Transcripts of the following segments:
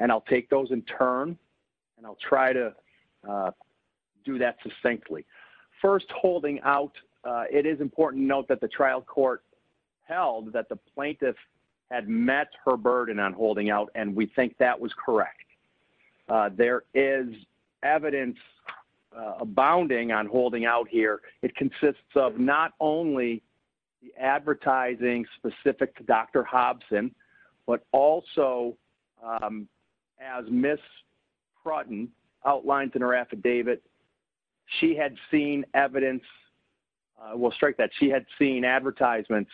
and I'll take those in turn and I'll try to do that succinctly. First, holding out, it is important note that the trial court held that the plaintiff had met her burden on holding out and we think that was correct. There is evidence abounding on holding out here. It consists of not only the advertising specific to Dr. Hobson but also, as Ms. Prutton outlines in her affidavit, she had seen evidence, I will strike that, she had seen advertisements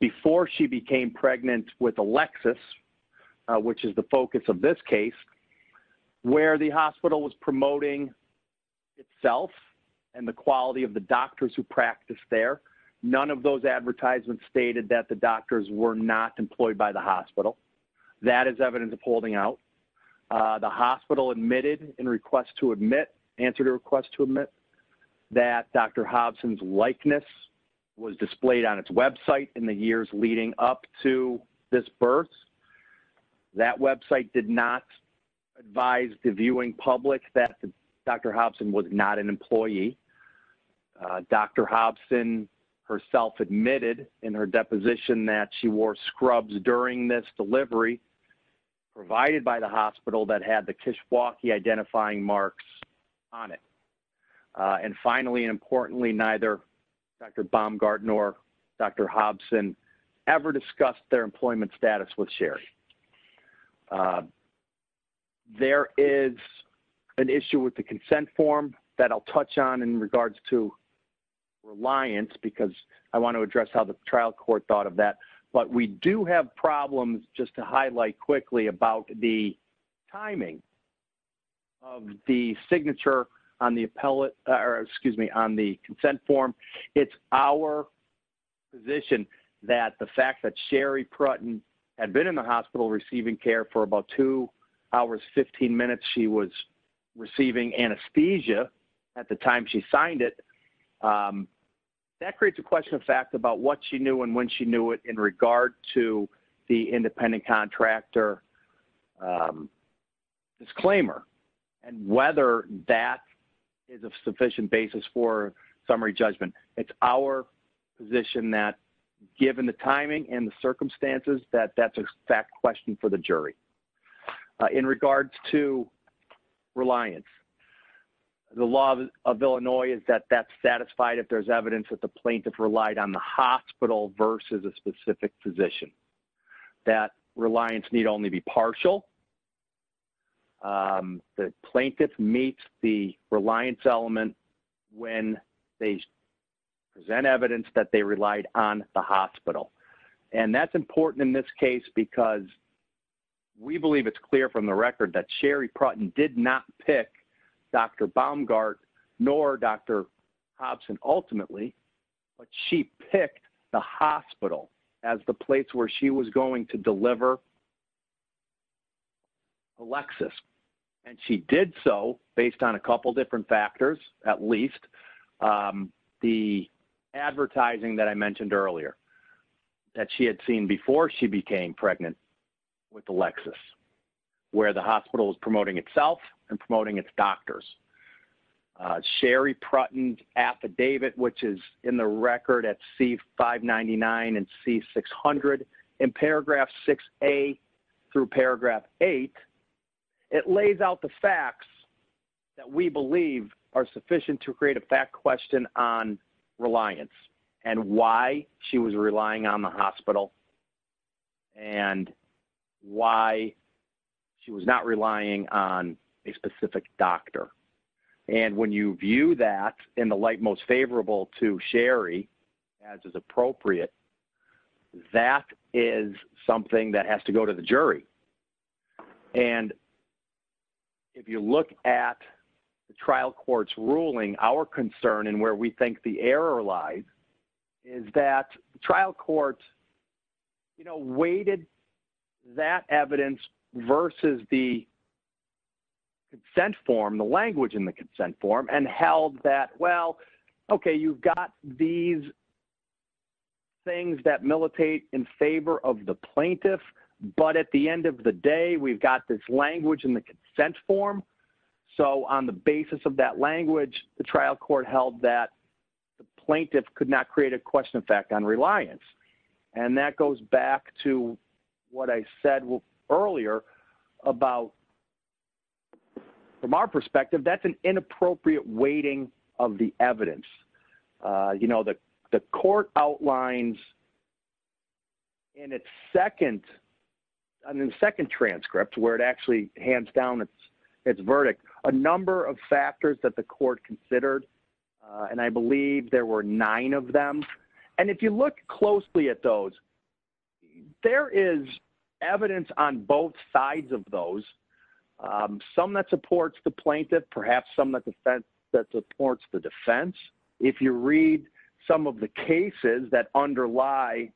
before she became pregnant with Alexis, which is the focus of this case, where the hospital was promoting itself and the quality of the doctors who practiced there. None of those advertisements stated that the doctors were not employed by the hospital. That is evidence of holding out. The hospital admitted in request to admit, answered a request to admit, that Dr. Hobson's likeness was displayed on its website in the years leading up to this birth. That website did not advise the viewing public that Dr. Hobson was not an employee. Dr. Hobson herself admitted in her deposition that she wore scrubs during this delivery provided by the hospital that had the Kishwaukee identifying marks on it. And finally importantly, neither Dr. Baumgarten nor Dr. Hobson ever discussed their employment status with Sherry. There is an issue with the consent form that I'll address how the trial court thought of that. But we do have problems, just to highlight quickly, about the timing of the signature on the appellate, or excuse me, on the consent form. It's our position that the fact that Sherry Prutten had been in the hospital receiving care for about 2 hours 15 minutes, she was receiving anesthesia at the time she signed it, that creates a question of fact about what she knew and when she knew it in regard to the independent contractor disclaimer, and whether that is a sufficient basis for summary judgment. It's our position that given the timing and the circumstances that that's a fact question for the jury. In regards to reliance, the law of Illinois is that that's satisfied if there's evidence that the plaintiff relied on the hospital versus a specific physician. That reliance need only be partial. The plaintiff meets the reliance element when they present evidence that they relied on the hospital. And that's important in this case because we believe it's clear from the record that Sherry Prutten did not pick Dr. Baumgarten nor Dr. Hobson ultimately, but she picked the hospital as the place where she was going to deliver Alexis. And she did so based on a couple different factors, at least the advertising that I mentioned earlier that she had seen before she became pregnant with Alexis, where the hospital is promoting itself and Sherry Prutten's affidavit, which is in the record at C-599 and C-600 in paragraph 6a through paragraph 8, it lays out the facts that we believe are sufficient to create a fact question on reliance and why she was relying on the And when you view that in the light most favorable to Sherry, as is appropriate, that is something that has to go to the jury. And if you look at the trial court's ruling, our concern and where we think the error lies is that trial courts, you know, weighted that evidence versus the consent form, the consent form, and held that, well, okay, you've got these things that militate in favor of the plaintiff, but at the end of the day, we've got this language in the consent form. So on the basis of that language, the trial court held that plaintiff could not create a question of fact on reliance. And that goes back to what I said earlier about, from our perspective, that's an inappropriate weighting of the evidence. You know, the court outlines in its second, I mean, second transcript, where it actually hands down its verdict, a number of factors that the court considered, and I believe there were nine of them. And if you look closely at those, there is evidence on both sides of those. Some that supports the plaintiff, perhaps some that supports the defense. If you read some of the cases that underlie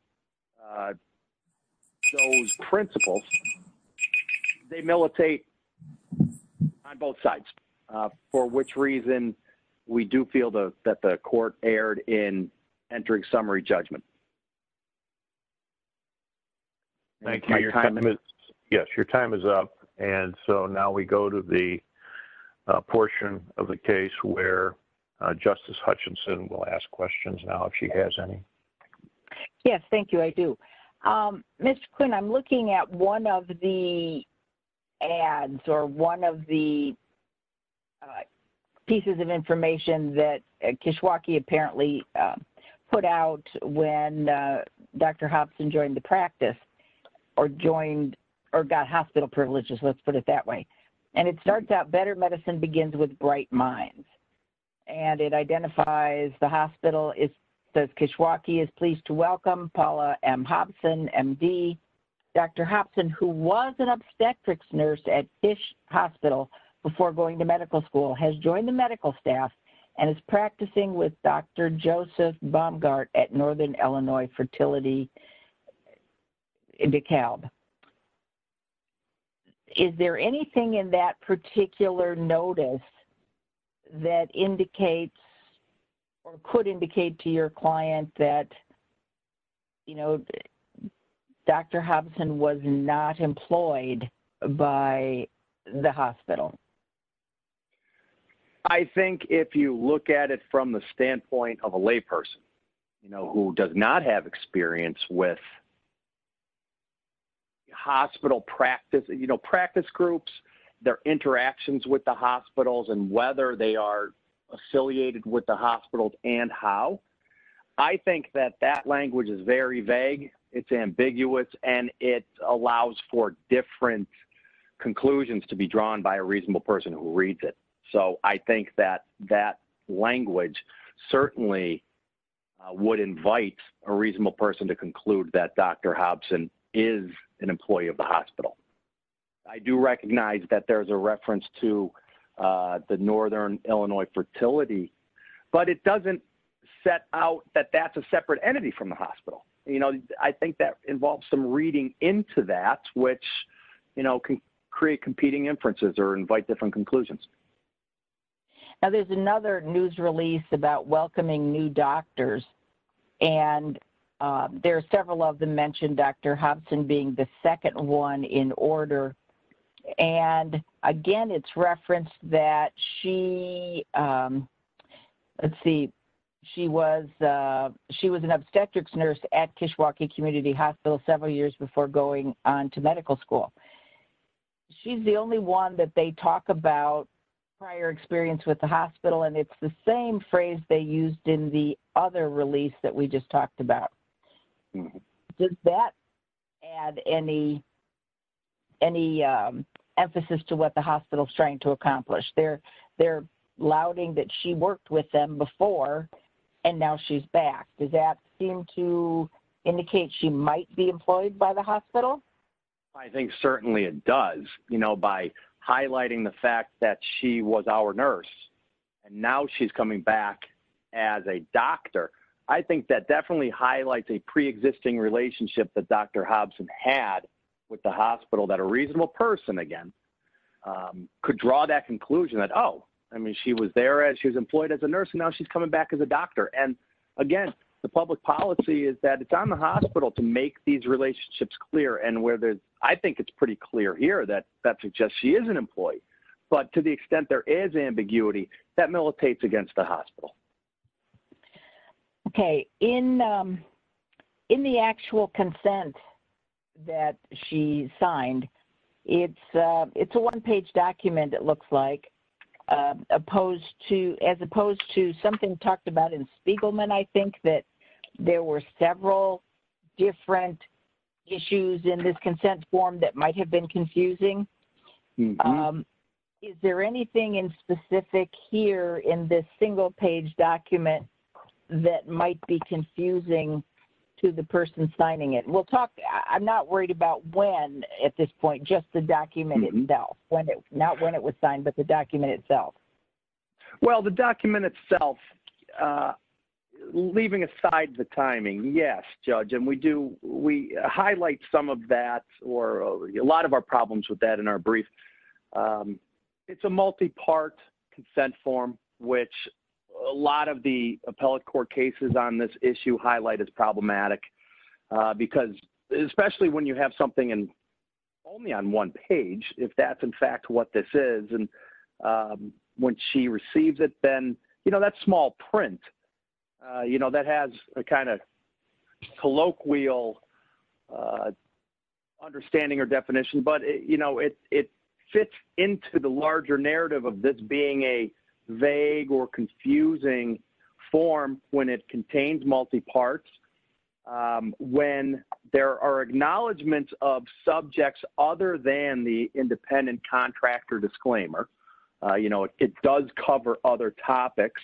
those principles, they militate on both sides, for which reason we do feel that the court erred in entering summary judgment. Yes, your time is up, and so now we go to the portion of the case where Justice Hutchinson will ask questions now, if she has any. Yes, thank you, I do. Ms. Quinn, I'm looking at one of the ads, or one of the pieces of when Dr. Hobson joined the practice, or joined, or got hospital privileges, let's put it that way. And it starts out, better medicine begins with bright minds. And it identifies the hospital, it says, Kishwaukee is pleased to welcome Paula M. Hobson, MD. Dr. Hobson, who was an obstetrics nurse at Fish Hospital before going to medical school, has joined the medical staff and is practicing with Dr. Joseph Baumgart at Northern Illinois Fertility in DeKalb. Is there anything in that particular notice that indicates, or could indicate to your client that, you know, Dr. Hobson was not employed by the hospital? I think if you look at it from the standpoint of a layperson, you know, who does not have experience with hospital practice, you know, practice groups, their interactions with the hospitals, and whether they are affiliated with the hospitals, and how, I think that that language is very vague, it's ambiguous, and it allows for different conclusions to be drawn by a reasonable person who reads it. So I think that that language certainly would invite a reasonable person to conclude that Dr. Hobson is an employee of the hospital. I do recognize that there's a reference to the Northern Illinois Fertility, but it doesn't set out that that's a separate entity from the hospital. You know, I think that involves some reading into that, which, you know, can create competing inferences or invite different conclusions. Now there's another news release about welcoming new doctors, and there are several of them mentioned Dr. Hobson being the second one in order. And again, it's referenced that she, let's see, she was an obstetrics nurse at Kishwaukee Community Hospital several years before going on to medical school. She's the only one that they talk about prior experience with the hospital, and it's the same phrase they used in the other release that we just talked about. Does that add any, any emphasis to what the hospital is trying to accomplish? They're, they're lauding that she worked with them before, and now she's back. Does that seem to indicate she might be employed by the hospital? I think certainly it does, you know, by highlighting the fact that she was our nurse, and now she's coming back as a doctor. I think that definitely highlights a pre-existing relationship that Dr. Hobson had with the hospital that a reasonable person, again, could draw that conclusion that, oh, I mean, she was there as she was employed as a nurse, and now she's coming back as a doctor. And again, the public policy is that it's on the hospital to make these decisions, and where there's, I think it's pretty clear here that that suggests she is an employee. But to the extent there is ambiguity, that militates against the hospital. Okay. In, in the actual consent that she signed, it's, it's a one-page document, it looks like, opposed to, as opposed to something talked about in Spiegelman, I think that there were several different issues in this consent form that might have been confusing. Is there anything in specific here in this single-page document that might be confusing to the person signing it? We'll talk, I'm not worried about when at this point, just the document itself, when it, not when it was signed, but the document itself. Well, the document itself, leaving aside the timing, yes, Judge, and we do, we highlight some of that, or a lot of our problems with that in our brief. It's a multi-part consent form, which a lot of the appellate court cases on this issue highlight as problematic. Because, especially when you have something only on one page, if that's in fact what this is, and when she receives it, then, you know, that small print, you know, that has a kind of colloquial understanding or definition, but, you know, it, it fits into the larger narrative of this being a vague or confusing form when it contains multi-parts. When there are acknowledgments of subjects other than the independent contract or disclaimer, you know, it does cover other topics,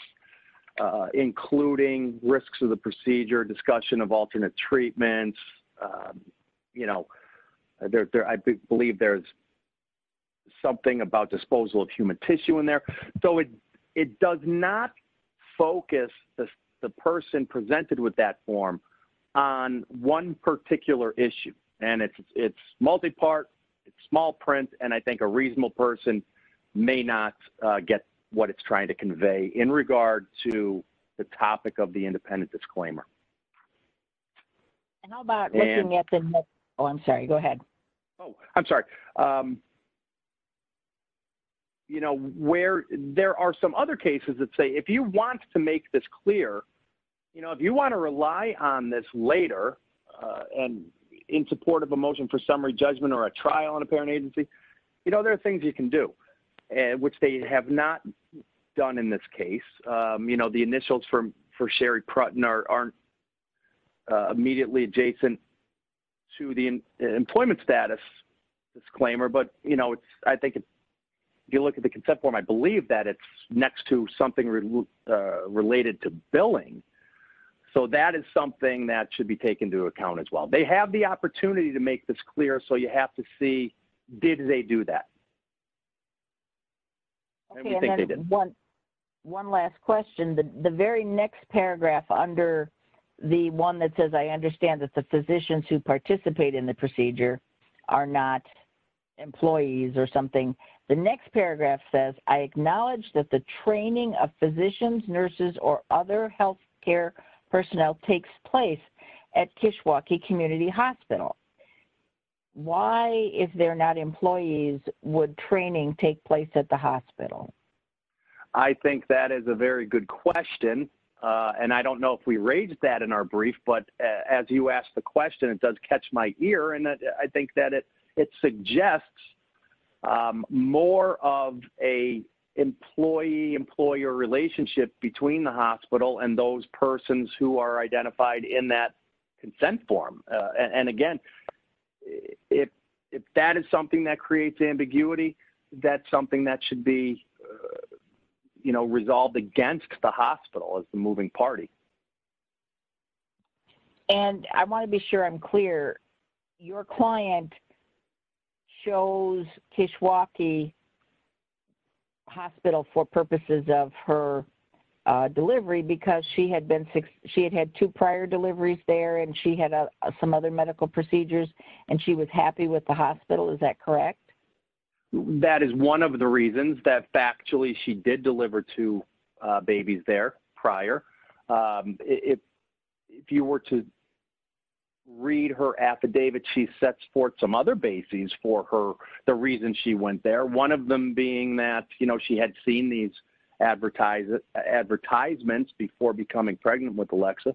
including risks of the procedure, discussion of alternate treatments, you know, there, I believe there's something about disposal of human tissue in there. So it, it does not focus the person presented with that form on one particular issue, and it's multi-part, it's small print, and I think a reasonable person may not get what it's trying to convey in regard to the topic of the independent disclaimer. And how about looking at the, oh, I'm sorry, go ahead. Oh, I'm sorry. You know, where, there are some other cases that say, if you want to make this you know, if you want to rely on this later, and in support of a motion for summary judgment or a trial on a parent agency, you know, there are things you can do, which they have not done in this case. You know, the initials for, for Sherry Prutten aren't immediately adjacent to the employment status disclaimer, but, you know, it's, I think if you look at the consent form, I think it's related to billing. So that is something that should be taken into account as well. They have the opportunity to make this clear, so you have to see, did they do that? Okay, and then one, one last question. The very next paragraph under the one that says, I understand that the physicians who participate in the procedure are not employees or something. The next paragraph says, I think that is a very good question. And I don't know if we raised that in our brief, but as you asked the question, it does catch my ear. And I think that it and those persons who are identified in that consent form. And again, if, if that is something that creates ambiguity, that's something that should be, you know, resolved against the hospital as the moving party. And I want to be sure I'm clear, your client shows Kishwaukee Hospital for because she had been, she had had two prior deliveries there and she had some other medical procedures and she was happy with the hospital. Is that correct? That is one of the reasons that factually she did deliver two babies there prior. If you were to read her affidavit, she sets forth some other bases for her, the reason she went there. One of them being that, you know, she had seen these advertisements before becoming pregnant with Alexa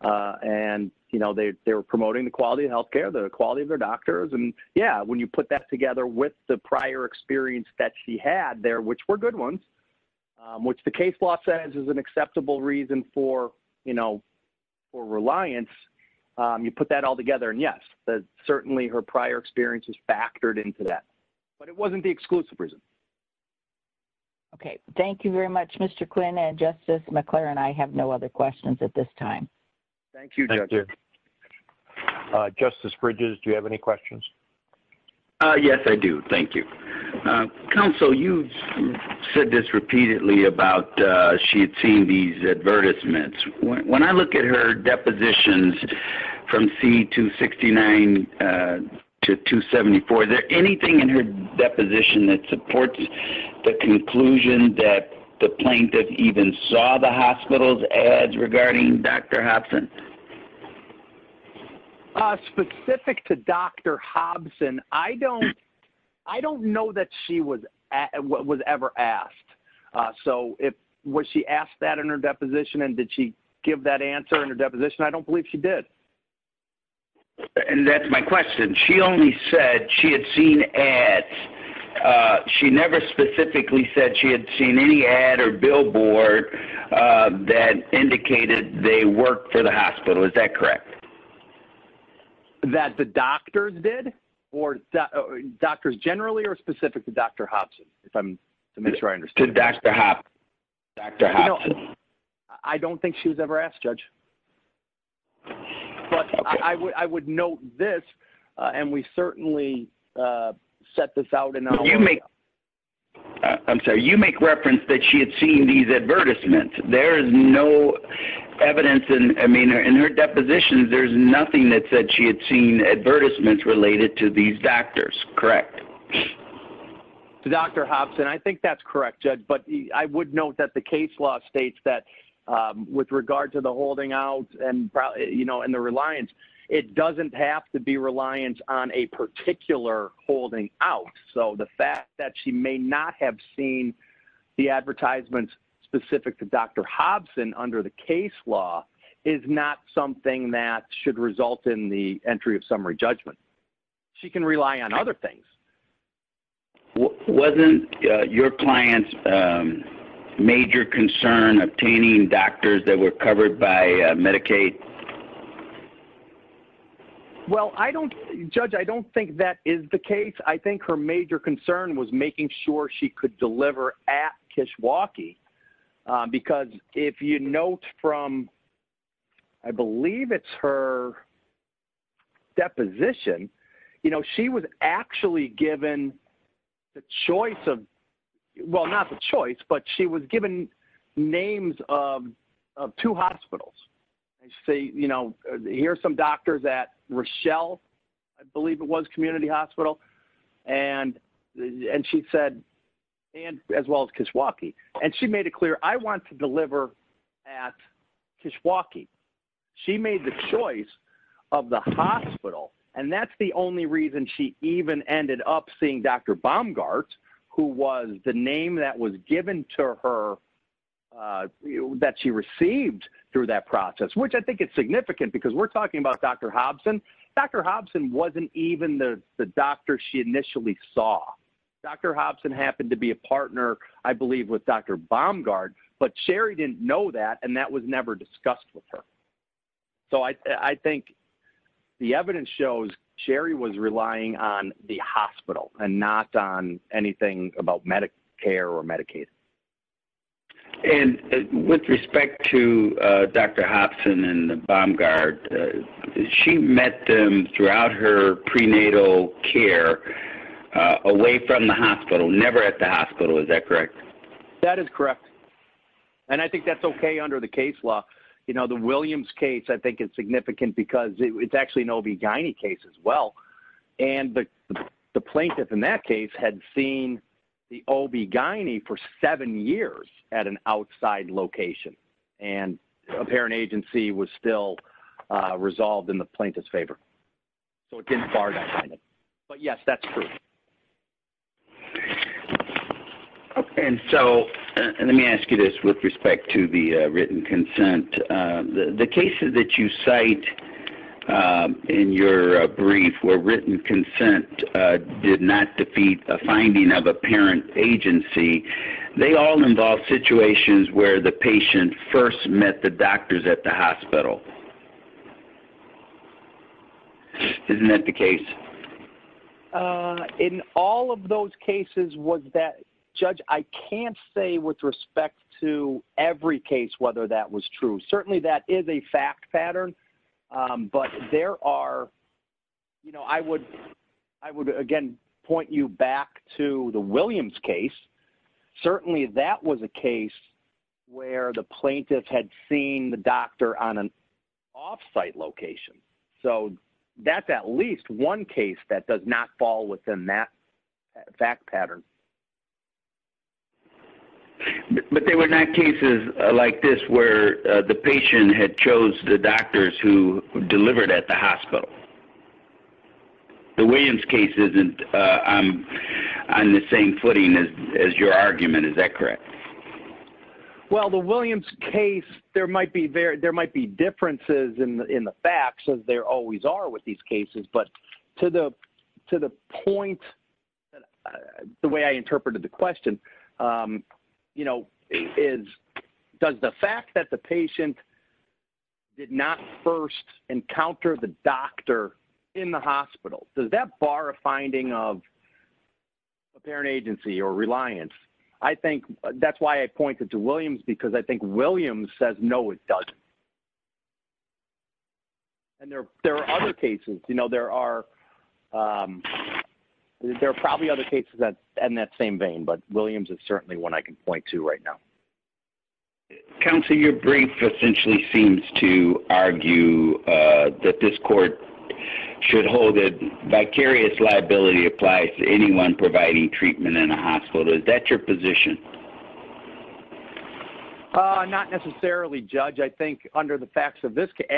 and, you know, they were promoting the quality of healthcare, the quality of their doctors. And yeah, when you put that together with the prior experience that she had there, which were good ones, which the case law says is an acceptable reason for, you know, for reliance. You put that all together and yes, certainly her prior experience is factored into that, but it wasn't the exclusive reason. Okay. Thank you very much, Mr. Quinn and Justice McClure and I have no other questions at this time. Thank you. Justice Bridges, do you have any questions? Yes, I do. Thank you. Counsel, you said this repeatedly about she had seen these advertisements. When I look at her deposition, it supports the conclusion that the plaintiff even saw the hospital's ads regarding Dr. Hobson. Specific to Dr. Hobson, I don't know that she was ever asked. So, was she asked that in her deposition and did she give that answer in her deposition? I don't believe she did. And that's my question. She only said she had seen ads. She never specifically said she had seen any ad or billboard that indicated they worked for the hospital. Is that correct? That the doctor did or doctors generally are specific to Dr. Hobson. If I'm correct, I would note this and we certainly set this out. I'm sorry. You make reference that she had seen these advertisements. There's no evidence in her deposition. There's nothing that said she had seen advertisements related to these doctors, correct? Dr. Hobson, I think that's correct, Judge, but I would note that the case law states that with regard to the holding out and the reliance, it doesn't have to be reliance on a particular holding out. So, the fact that she may not have seen the advertisements specific to Dr. Hobson under the case law is not something that should result in the entry of summary judgment. She can rely on other things. Wasn't your client's major concern obtaining doctors that were covered by Medicaid? Well, Judge, I don't think that is the case. I think her major concern was making sure she was actually given the choice of, well, not the choice, but she was given names of two hospitals. Here's some doctors at Rochelle, I believe it was community hospital, and she said, as well as Kishwaukee. She made it clear, I want to deliver at Kishwaukee. She made the choice of the hospital, and that's the only reason she even ended up seeing Dr. Baumgart, who was the name that was given to her, that she received through that process, which I think is significant because we're talking about Dr. Hobson. Dr. Hobson wasn't even the doctor she initially saw. Dr. Hobson happened to be a partner, I believe, with Dr. Baumgart, but Sherry didn't know that, and that was never discussed with her. I think the evidence shows Sherry was relying on the hospital and not on anything about Medicare or Medicaid. With respect to Dr. Hobson and Baumgart, she met them throughout her prenatal care away from the hospital, never at the hospital. Is that correct? That is correct, and I think that's okay under the case law. The Williams case, I think, is significant because it's actually an OB-GYN case as well, and the plaintiff in that case had seen the OB-GYN for seven years at an outside location, and a parent agency was still resolved in the plaintiff's favor, so it didn't far that way, but yes, that's true. Okay, and so let me ask you this with respect to the written consent. The cases that you cite in your brief where written consent did not defeat a finding of a parent agency, they all involve situations where the patient first met the doctors at the hospital. Isn't that the case? In all of those cases, Judge, I can't say with respect to every case whether that was true. Certainly, that is a fact pattern, but I would, again, point you back to the Williams case. Certainly, that was a case where the plaintiff had seen the doctor on an off-site location, so that's at least one case that does not fall within that fact pattern. But there were not cases like this where the patient had chose the doctors who your argument, is that correct? Well, the Williams case, there might be differences in the facts, as there always are with these cases, but to the point, the way I interpreted the question, you know, does the fact that the patient did not first encounter the doctor in the hospital, does that bar a finding of a parent agency or reliance? I think that's why I pointed to Williams, because I think Williams says, no, it doesn't. And there are other cases, you know, there are probably other cases in that same vein, but Williams is certainly one I can point to right now. Counsel, your brief essentially seems to argue that this court should hold that vicarious liability applies to anyone providing treatment in a hospital. Is that your position? Not necessarily, Judge. I think, under the facts of this case,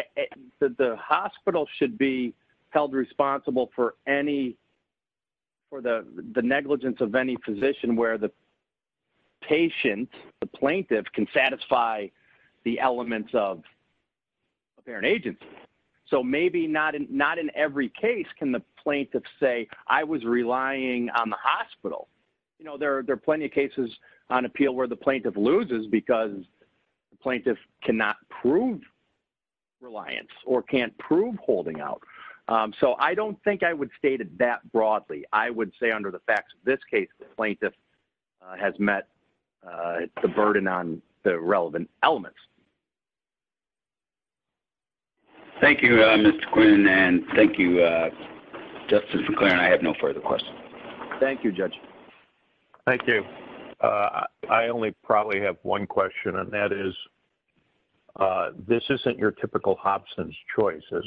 the hospital should be held responsible for the negligence of any physician where the patient, the plaintiff, can satisfy the elements of a parent agency. So, maybe not in every case can the plaintiff say, I was relying on the hospital. You know, there are plenty of cases on appeal where the plaintiff loses because the plaintiff cannot prove reliance or can't prove holding out. So, I don't think I would state it that broadly. I would say, under the facts of this case, the plaintiff has met the burden on the relevant elements. Thank you, Mr. Quinn, and thank you, Justice McClaren. I have no further questions. Thank you, Judge. Thank you. I only probably have one question, and that is, this isn't your typical Hobson's choice, is it?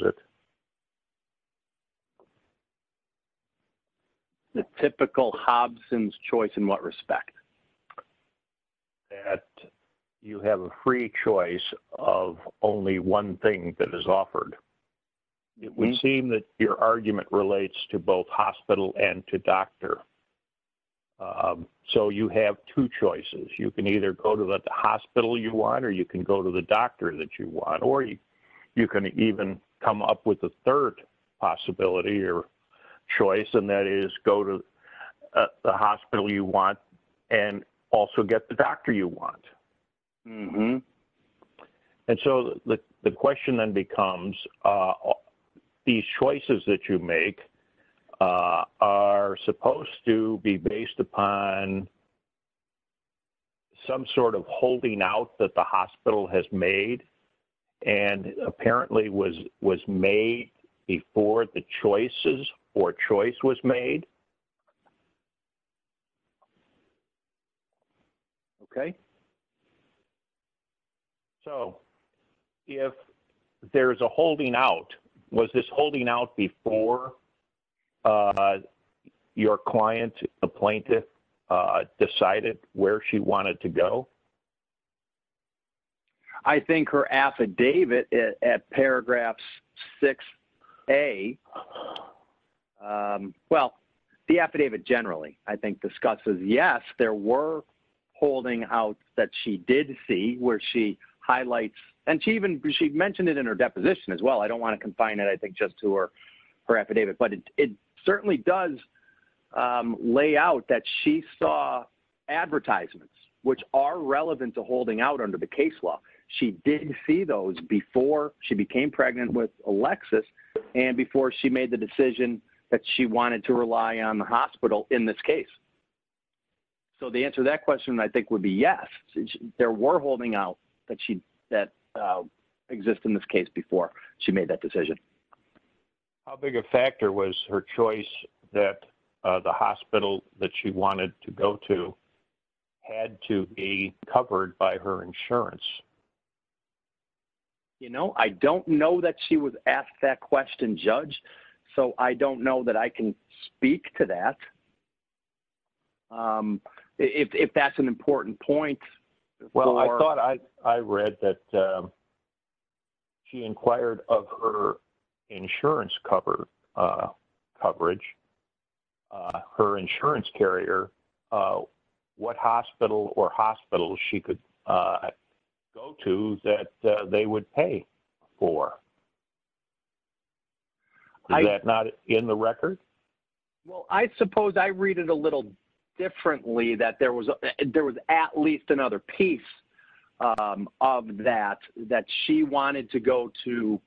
The typical Hobson's choice in what respect? That you have a free choice of only one thing that is offered. It would seem that your argument relates to both hospital and to doctor. So, you have two choices. You can either go to the hospital you want, or you can go to the doctor that you want, or you can even come up with a third possibility or choice, and that is, go to the hospital you want and also get the doctor you want. And so, the question then becomes, these choices that you make are supposed to be based upon some sort of holding out that the hospital has made, and apparently was made before the choices or choice was made. Okay. So, if there's a holding out, was this holding out before your client, the plaintiff, decided where she wanted to go? So, I think her affidavit at paragraphs 6A, well, the affidavit generally, I think, discusses, yes, there were holding out that she did see where she highlights, and she even mentioned it in her deposition as well. I don't want to confine it, I think, just to her affidavit, but it relevant to holding out under the case law. She did see those before she became pregnant with Alexis and before she made the decision that she wanted to rely on the hospital in this case. So, the answer to that question, I think, would be yes, there were holding out that exist in this case before she made that decision. How big a factor was her choice that the hospital that she wanted to go to had to be covered by her insurance? You know, I don't know that she was asked that question, Judge, so I don't know that I can speak to that, if that's an important point. Well, I thought I read that she inquired of her insurance coverage, her insurance carrier, what hospital or hospitals she could go to that they would pay for. Is that not in the record? Well, I suppose I read it a little differently that there was at least another piece of that, that she wanted to go to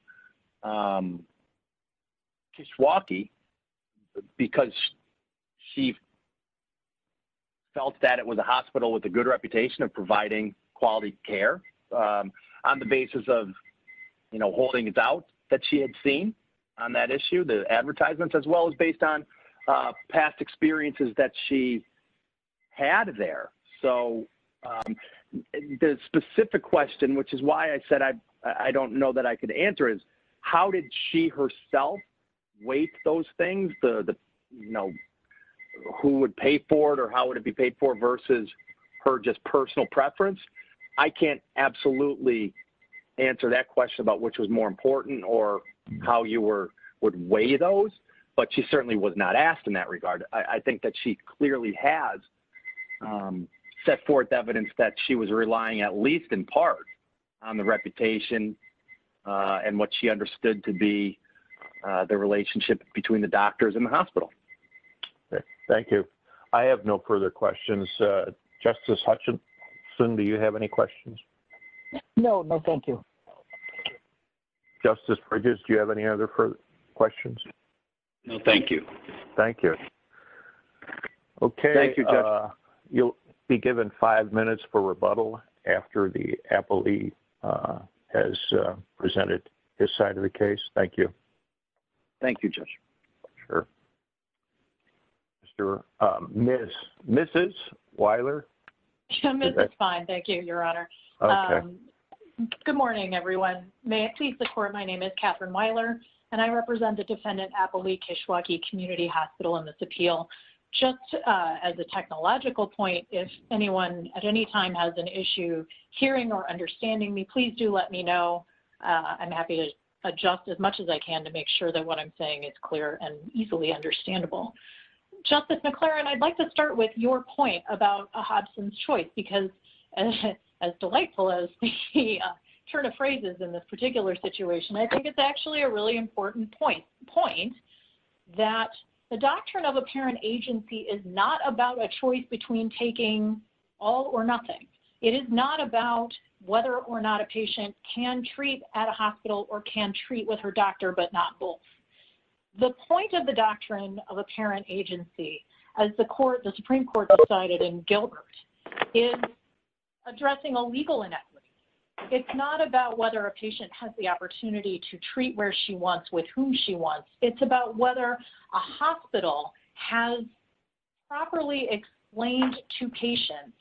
Kishwaukee because she felt that it was a hospital with a good reputation of providing quality care on the basis of, you know, holding it out that she had seen on that issue, advertisements as well as based on past experiences that she had there. So, the specific question, which is why I said I don't know that I could answer is, how did she herself weight those things, you know, who would pay for it or how would it be paid for versus her just personal preference? I can't absolutely answer that question about which more important or how you would weigh those, but she certainly was not asked in that regard. I think that she clearly has set forth evidence that she was relying at least in part on the reputation and what she understood to be the relationship between the doctors and the hospital. Thank you. I have no further questions. Justice Hutchinson, do you have any questions? No, no, thank you. Justice Bridges, do you have any other questions? No, thank you. Thank you. Okay, you'll be given five minutes for rebuttal after the appellee has presented his side of the case. Thank you. Thank you, Judge. Sure. Sure. Miss, Mrs. Weiler? I'm fine, thank you, Your Honor. Okay. Good morning, everyone. May I please report my name is Catherine Weiler, and I represent the Defendant Appellee Kishwaukee Community Hospital in this appeal. Just as a technological point, if anyone at any time has an issue hearing or understanding me, please do let me know. I'm happy to adjust as much as I can to make sure that what I'm saying is clear and easily understandable. Justice McClaren, I'd like to start with your point about a Hodgson's choice, because as delightful as the turn of phrases in this particular situation, I think it's actually a really important point that the doctrine of apparent agency is not about a choice between taking all or nothing. It is not about whether or not a patient can treat at a hospital or can treat with her doctor, but not both. The point of the doctrine of apparent agency, as the Supreme Court decided in Gilbert, is addressing a legal inequity. It's not about whether a patient has the opportunity to treat where she wants with whom she wants. It's about whether a hospital has properly explained to patients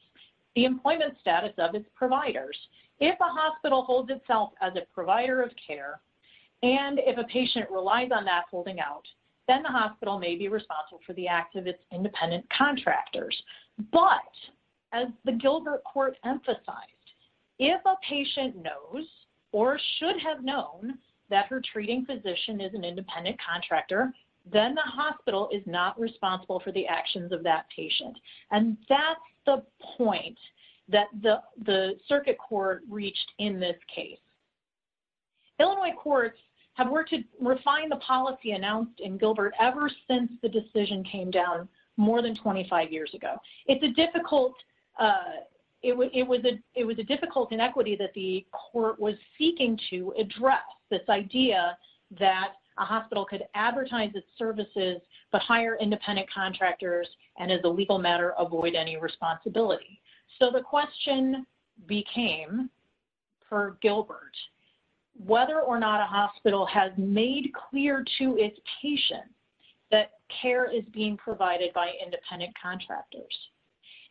the employment status of its providers. If a hospital holds itself as a provider of care and if a patient relies on that holding out, then the hospital may be responsible for the act of its independent contractors. But, as the Gilbert court emphasized, if a patient knows or should have known that her treating physician is an independent contractor, then the hospital is not responsible for the reached in this case. Illinois courts have worked to refine the policy announced in Gilbert ever since the decision came down more than 25 years ago. It was a difficult inequity that the court was seeking to address, this idea that a hospital could advertise its services, but hire independent contractors, and as a legal matter, avoid any responsibility. The question became, per Gilbert, whether or not a hospital has made clear to its patients that care is being provided by independent contractors.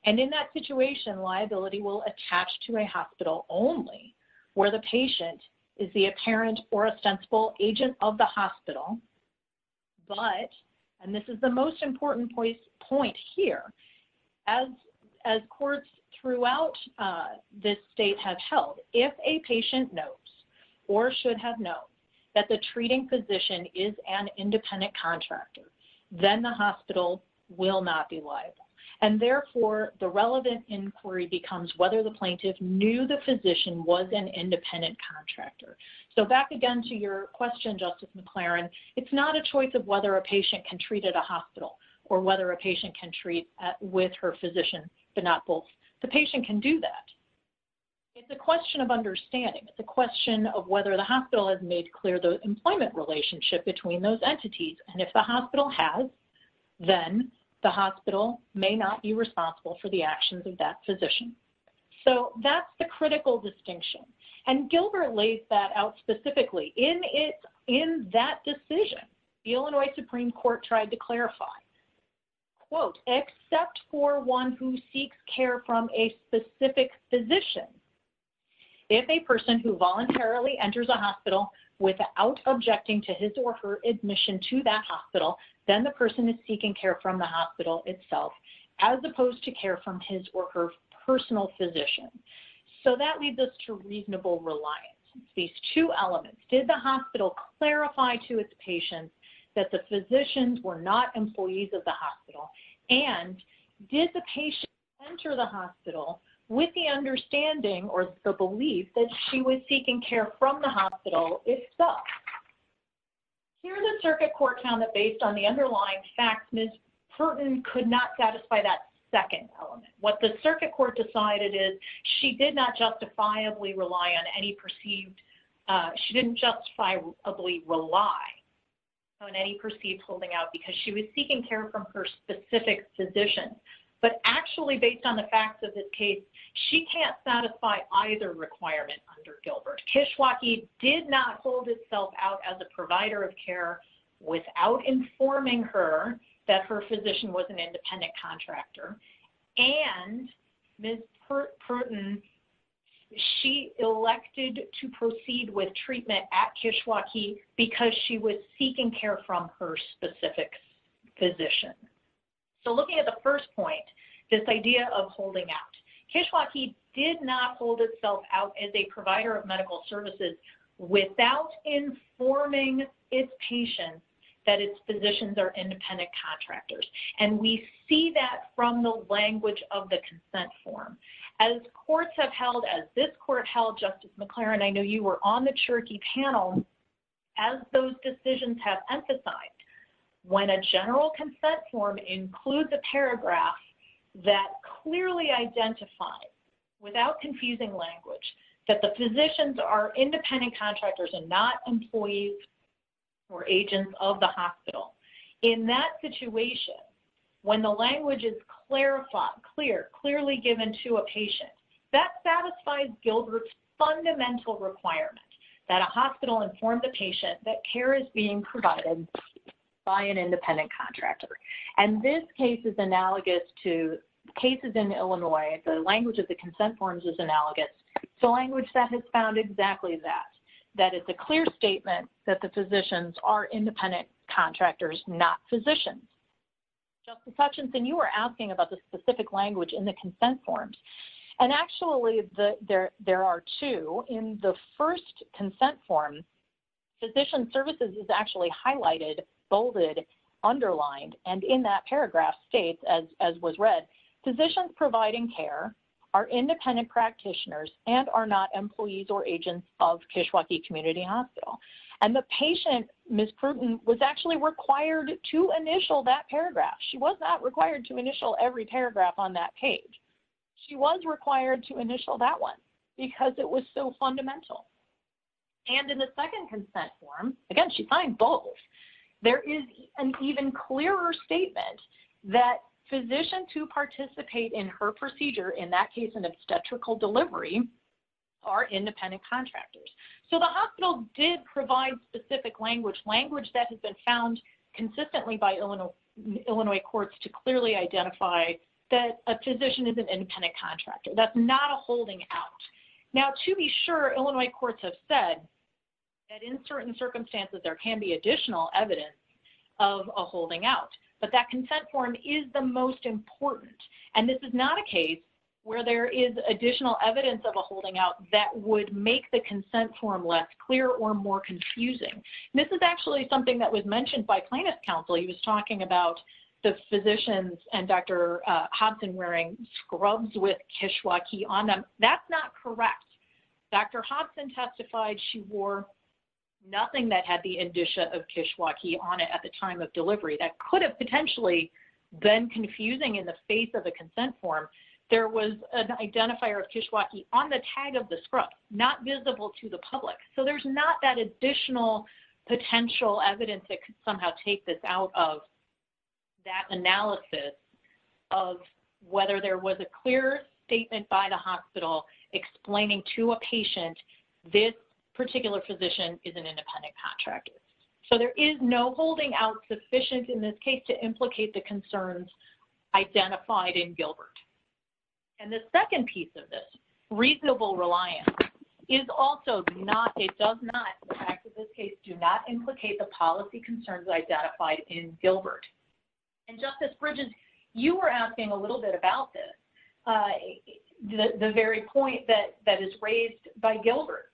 In that situation, liability will attach to a hospital only, where the patient is the apparent or a sensible agent of the hospital. But, and this is the most important point here, as courts throughout this state have held, if a patient knows or should have known that the treating physician is an independent contractor, then the hospital will not be liable. And therefore, the relevant inquiry becomes whether the plaintiff knew the physician was an independent contractor. So, back again to your question, Justice McLaren, it's not a choice of whether a patient can treat at a hospital or whether a patient can treat with her physician, but not both. The patient can do that. It's a question of understanding. It's a question of whether the hospital has made clear the employment relationship between those entities. And if the hospital has, then the hospital may not be responsible for the actions of that physician. So, that's the critical distinction. And Gilbert lays that out specifically in that decision. The Illinois Supreme Court tried to clarify, quote, except for one who seeks care from a specific physician, if a person who voluntarily enters a hospital without objecting to his or her admission to that hospital, then the person is seeking care from the hospital itself, as opposed to care from his or her personal physician. So, that leads us to reasonable reliance. These two elements, did the hospital clarify to its patients that the physicians were not employees of the hospital? And did the patient enter the hospital with the understanding or the belief that she was seeking care from the hospital itself? Here, the circuit court found that based on the underlying facts, Ms. Purton could not satisfy that second element. What the circuit court decided is she did not justifiably rely on any perceived, she didn't justifiably rely on any perceived holding out because she was seeking care from her specific physician. But actually, based on the facts of this case, she can't satisfy either requirement under Gilbert. Kishwaukee did not hold itself out as a provider of care without informing her that her physician was an independent contractor. And Ms. Purton, she elected to proceed with treatment at Kishwaukee because she was seeking care from her specific physician. So, looking at the first point, this idea of holding out, Kishwaukee did not hold out as a provider of medical services without informing its patients that its physicians are independent contractors. And we see that from the language of the consent form. As courts have held, as this court held, Justice McClaren, I know you were on the Cherokee panel, as those decisions have emphasized, when a general consent form includes a paragraph that clearly identifies, without confusing language, that the physicians are independent contractors and not employees or agents of the hospital. In that situation, when the language is clarified, clear, clearly given to a patient, that satisfies Gilbert's fundamental requirement that a hospital inform the patient that care is being provided by an independent contractor. And this case is analogous to cases in Illinois. The language of the consent forms is analogous. The language that has found exactly that, that it's a clear statement that the physicians are independent contractors, not physicians. Justice Hutchinson, you were asking about the specific language in the consent forms. And actually, there are two. In the first consent form, physician services is actually highlighted, bolded, underlined. And in that paragraph states, as was read, physicians providing care are independent practitioners and are not employees or agents of Kishwaukee Community Hospital. And the patient, Ms. Pruden, was actually required to initial that paragraph. She was not required to initial every paragraph on that page. She was required to initial that one because it was so there is an even clearer statement that physicians who participate in her procedure, in that case, an obstetrical delivery, are independent contractors. So the hospital did provide specific language, language that has been found consistently by Illinois courts to clearly identify that a physician is an independent contractor. That's not a holding out. Now, to be sure, Illinois courts have said that in certain circumstances, there can be additional evidence of a holding out. But that consent form is the most important. And this is not a case where there is additional evidence of a holding out that would make the consent form less clear or more confusing. This is actually something that was mentioned by plaintiff's counsel. He was talking about the physicians and Dr. Hobson wearing scrubs with Kishwaukee on them. That's not correct. Dr. Hobson testified she wore nothing that had the indicia of Kishwaukee on it at the time of delivery. That could have potentially been confusing in the face of the consent form. There was an identifier of Kishwaukee on the tag of the scrub, not visible to the public. So there's not that additional potential evidence that could somehow take this out of that analysis of whether there was a clear statement by the hospital explaining to a patient this particular physician is an independent contractor. So there is no holding out sufficient in this case to implicate the concerns identified in Gilbert. And the second piece of this, reasonable reliance, is also not, it does not, in fact, in this case, do not implicate the policy concerns identified in Gilbert. And Justice Bridges, you were asking a little bit about this, the very point that is raised by Gilbert.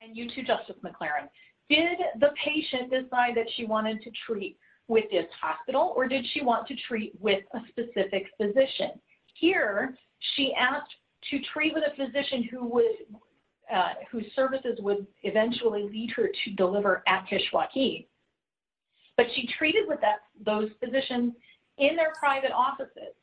And you too, Justice McLaren. Did the patient decide that she wanted to treat with this hospital or did she want to treat with a specific physician? Here, she asked to treat with a physician whose services would eventually lead her to deliver at Kishwaukee. But she treated those physicians in their private offices.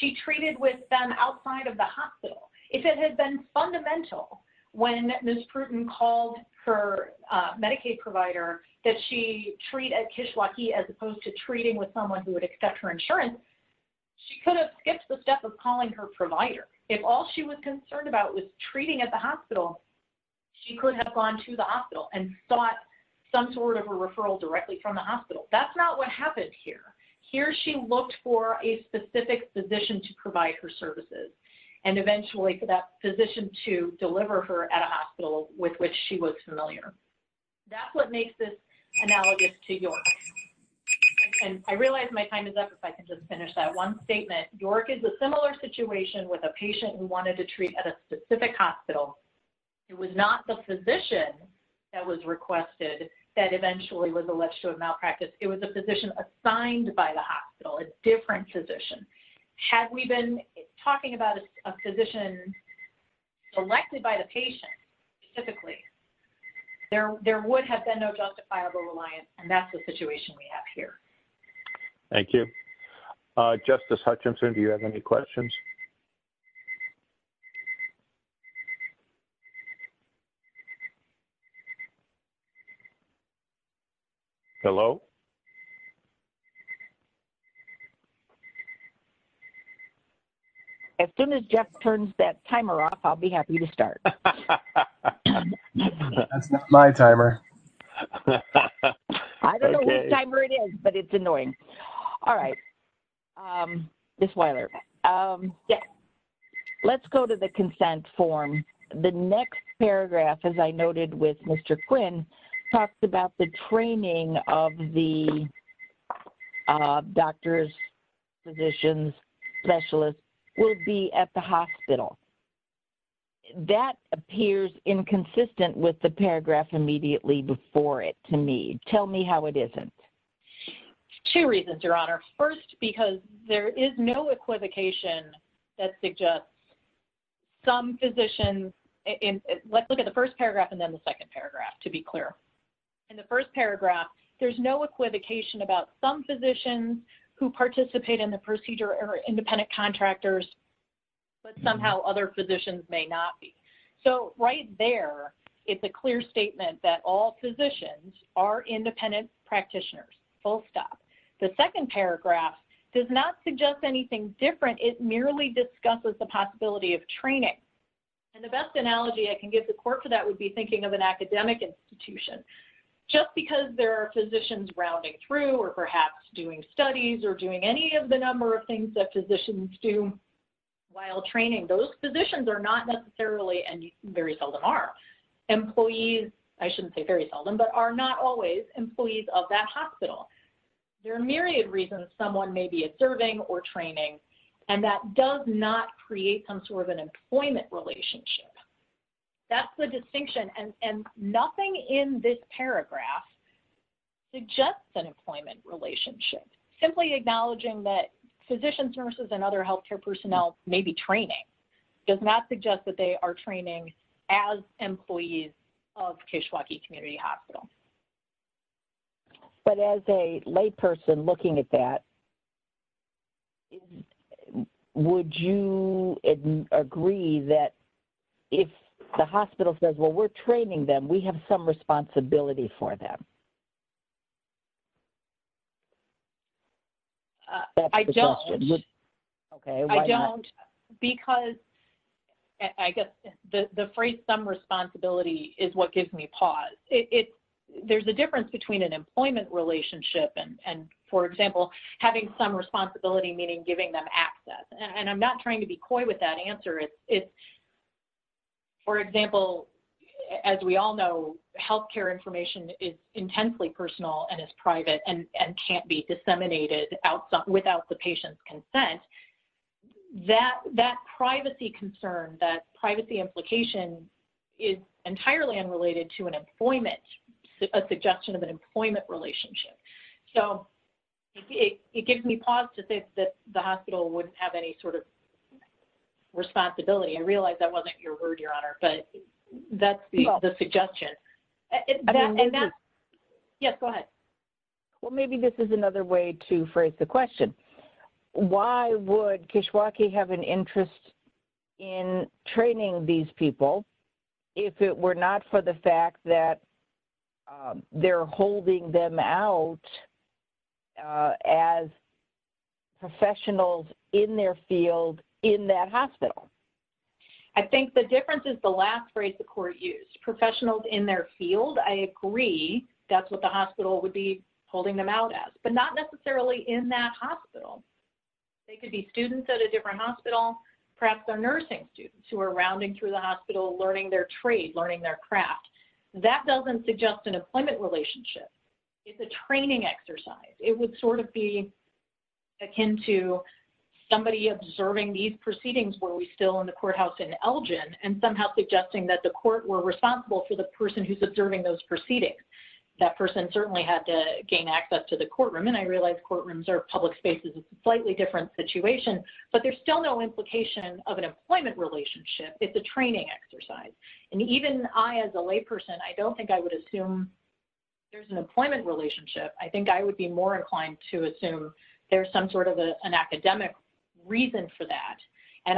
She treated with them outside of the hospital. If it had been fundamental when Ms. Pruden called her Medicaid provider that she treat at Kishwaukee as opposed to treating with someone who would accept her insurance, she could have skipped the step of calling her provider. If all she was concerned about was treating at the hospital, she could have gone to the hospital and sought some sort of a referral directly from the hospital. That's not what happened here. Here, she looked for a specific physician to provide her services and eventually for that physician to deliver her at a hospital with which she was familiar. That's what makes this analogous to York. And I realize my time is up if I can just finish that one statement. York is a similar situation with a patient who wanted to treat at a specific hospital. It was not the physician that was requested that eventually was alleged to have practice. It was a physician assigned by the hospital, a different physician. Had we been talking about a physician selected by the patient specifically, there would have been no justifiable reliance and that's the situation we have here. Thank you. Justice Hutchinson, do you have any questions? Hello? As soon as Jeff turns that timer off, I'll be happy to start. My timer. I don't know what timer it is, but it's annoying. All right. Ms. Weiler, let's go to the consent form. The next paragraph, as I noted with Mr. Quinn, talks about the training of the doctors, physicians, specialists will be at the hospital. That appears inconsistent with the paragraph immediately before it to me. Tell me how it isn't. There are two reasons, Your Honor. First, because there is no equivocation that suggests some physicians, let's look at the first paragraph and then the second paragraph to be clear. In the first paragraph, there's no equivocation about some physicians who participate in the procedure are independent contractors, but somehow other physicians may not be. So, right there, it's a clear statement that all physicians are independent practitioners, full stop. The second paragraph does not suggest anything different. It merely discusses the possibility of training. And the best analogy I can give the court for that would be thinking of an academic institution. Just because there are physicians rounding through or perhaps doing studies or doing any of the number of things that physicians do while training, those positions are not necessarily and very seldom are. Employees, I shouldn't say very seldom, but are not always employees of that hospital. There are myriad reasons someone may be observing or training, and that does not create some sort of an employment relationship. That's the distinction. And nothing in this paragraph suggests an employment relationship. Simply acknowledging that physicians, nurses, and other healthcare personnel may be training. It does not suggest that they are training as employees of Keshawake Community Hospital. But as a layperson looking at that, would you agree that if the hospital says, well, we're training them, we have some responsibility for them? I don't. Because I guess the phrase some responsibility is what gives me pause. There's a difference between an employment relationship and, for example, having some responsibility meaning giving them access. And I'm not trying to be coy with that answer. It's, for example, as we all know, healthcare information is intensely personal and is private and can't be disseminated without the patient's consent. That privacy concern, that privacy implication is entirely unrelated to an employment, a suggestion of an employment relationship. So it gives me pause to think that the hospital wouldn't have any sort of responsibility. I realize that wasn't your word, Your Honor, but that's the suggestion. Yes, go ahead. Well, maybe this is another way to phrase the question. Why would Keshawake have an interest in training these people if it were not for the fact that they're holding them out as professionals in their field in that hospital? I think the difference is the last phrase the court used, professionals in their field. I agree. That's what the hospital would be holding them out as, but not necessarily in that hospital. They could be students at a different hospital, perhaps they're nursing students who are rounding through the hospital learning their trade, learning their craft. That doesn't suggest an employment relationship. It's a training exercise. It would sort of be akin to somebody observing these proceedings while we're still in the courthouse in Elgin and somehow suggesting that the court were responsible for the person who's observing those proceedings. That person certainly had to gain access to the courtroom. I realize courtrooms are public spaces. It's a slightly different situation, but there's still no implication of an employment relationship. It's a training exercise. Even I, as a layperson, I don't think I would assume there's an employment relationship. I think I would be more inclined to assume there's some sort of an academic reason for that.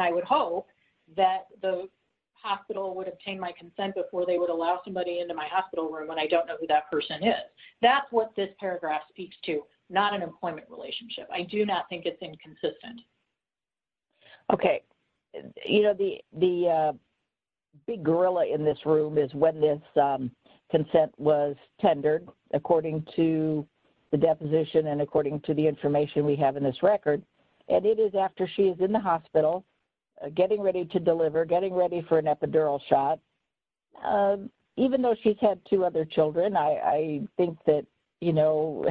I would hope that the hospital would obtain my consent before they would allow somebody into my hospital room when I don't know who that person is. That's what this paragraph speaks to, not an employment relationship. I do not think it's inconsistent. Okay. You know, the big gorilla in this room is when this consent was tendered, according to the deposition and according to the information we have in this record, and it is after she's in the hospital, getting ready to deliver, getting ready for an epidural shot. Even though she's had two other children, I think that, you know,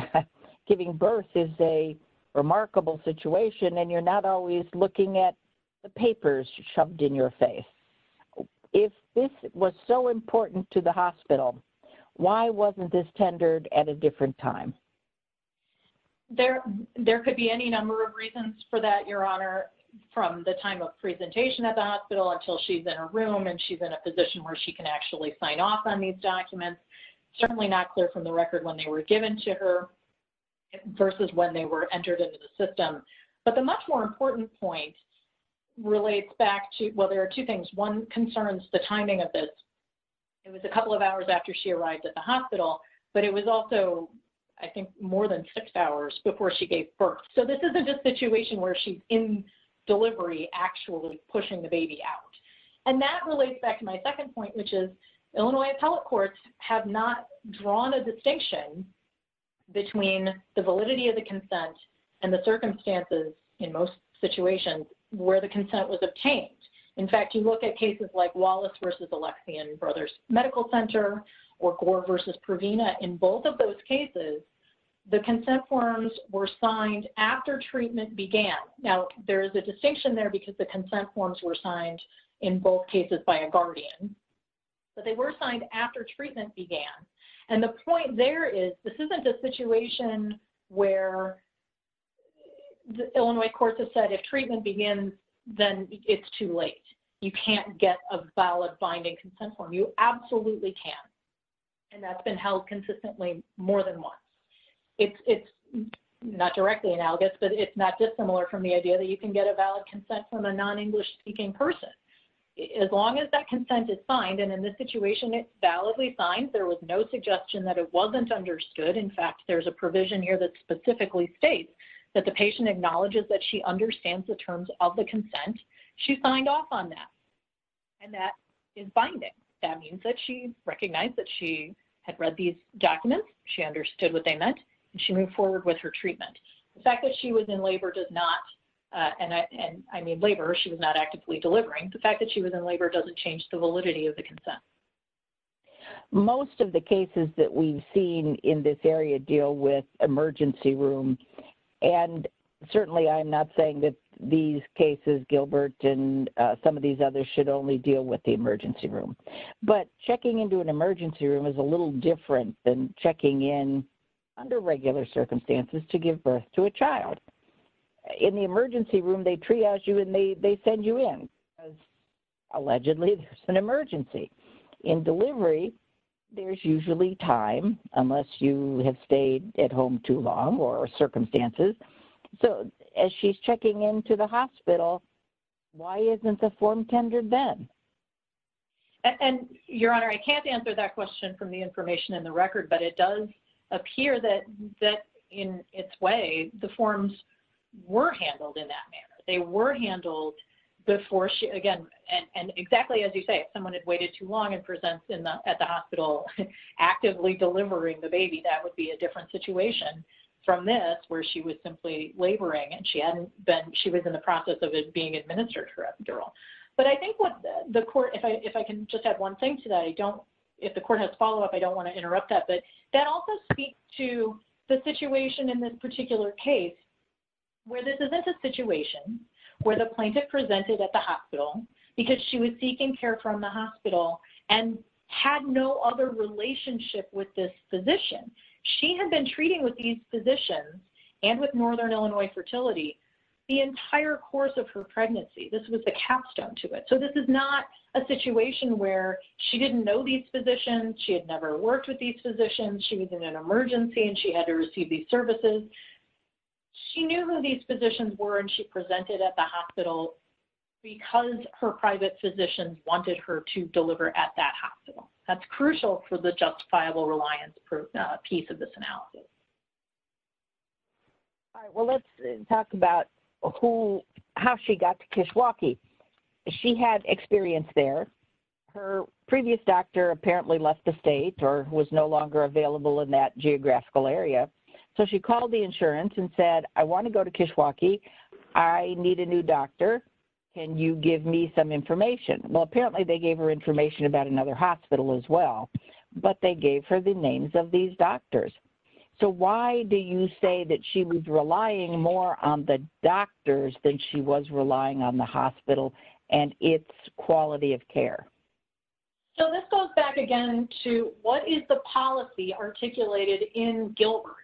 giving birth is a remarkable situation, and you're not always looking at the papers shoved in your face. If this was so important to the hospital, why wasn't this tendered at a different time? There could be any number of reasons for that, Your Honor, from the time of presentation at the position where she can actually sign off on these documents. It's certainly not clear from the record when they were given to her versus when they were entered into the system. But the much more important point relates back to, well, there are two things. One concerns the timing of this. It was a couple of hours after she arrived at the hospital, but it was also, I think, more than six hours before she gave birth. So this is a situation where she's in delivery, actually pushing the baby out. And that relates back to my second point, which is Illinois appellate courts have not drawn a distinction between the validity of the consent and the circumstances in most situations where the consent was obtained. In fact, you look at cases like Wallace versus Alexian Brothers Medical Center or Gore versus Provena. In both of those cases, the consent forms were signed after treatment began. Now, there is a distinction there because the consent forms were signed in both cases by a guardian, but they were signed after treatment began. And the point there is this isn't a situation where the Illinois courts have said if treatment begins, then it's too late. You can't get a valid binding consent form. You absolutely can't. And that's been held consistently more than once. It's not directly analogous, but it's not dissimilar from the idea that you can get a valid consent from a non-English speaking person. As long as that consent is signed, and in this situation it's validly signed, there was no suggestion that it wasn't understood. In fact, there's a provision here that specifically states that the patient acknowledges that she understands the terms of the consent she signed off on that. And that is binding. That means that she recognized that she had read these documents, she understood what they meant, and she moved forward with her treatment. The fact that she was in labor does not, and I mean labor, she was not actively delivering. The fact that she was in labor doesn't change the validity of the consent. Most of the cases that we've seen in this area deal with emergency room. And certainly I'm not saying that these cases, Gilbert, and some of these others should only deal with the emergency room. But checking into an emergency room is a little different than checking in under regular circumstances to give birth to a child. In the emergency room, they triage you and they send you in. Allegedly, there's an emergency. In delivery, there's usually time, unless you have stayed at home too long or circumstances. So as she's checking into the hospital, why isn't the form then? And, Your Honor, I can't answer that question from the information in the record, but it does appear that in its way, the forms were handled in that manner. They were handled before she, again, and exactly as you say, if someone had waited too long and presents at the hospital actively delivering the baby, that would be a different situation from this where she was simply laboring and she hadn't been, she was in the process of it being administered to her but I think what the court, if I can just add one thing to that, I don't, if the court has follow up, I don't want to interrupt that, but that also speaks to the situation in this particular case where this is a situation where the plaintiff presented at the hospital because she was seeking care from the hospital and had no other relationship with this physician. She had been treating with these physicians and with Northern Illinois Fertility the entire course of her capstone to it. So, this is not a situation where she didn't know these physicians. She had never worked with these physicians. She was in an emergency and she had to receive these services. She knew who these physicians were and she presented at the hospital because her private physicians wanted her to deliver at that hospital. That's crucial for the justifiable reliance piece of this analysis. All right. Well, let's talk about who, how she got to Kishwaukee. She had experience there. Her previous doctor apparently left the state or was no longer available in that geographical area. So, she called the insurance and said, I want to go to Kishwaukee. I need a new doctor. Can you give me some information? Well, apparently they gave her information about another hospital as well but they gave her the names of these doctors. So, why do you say that she was relying more on the doctors than she was relying on the hospital and its quality of care? So, this goes back again to what is the policy articulated in Gilbert?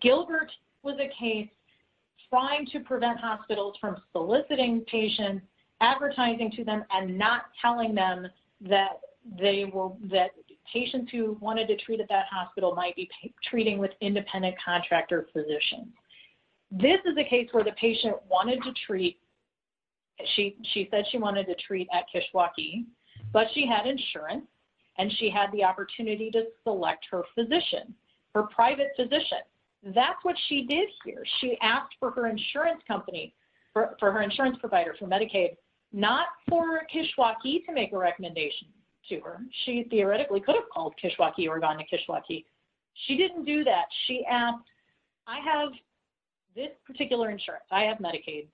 Gilbert was a case trying to prevent hospitals from soliciting patients, advertising to them, and not telling them that patients who wanted to treat at that hospital might be treating with independent contractor physicians. This is a case where the patient wanted to treat, she said she wanted to treat at Kishwaukee, but she had insurance and she had the opportunity to select her physician, her private physician. That's what she did here. She asked for her insurance company, for her insurance provider for Medicaid, not for Kishwaukee to make a recommendation to her. She theoretically could have called Kishwaukee or gone to Kishwaukee. She didn't do that. She asked, I have this particular insurance. I have Medicaid.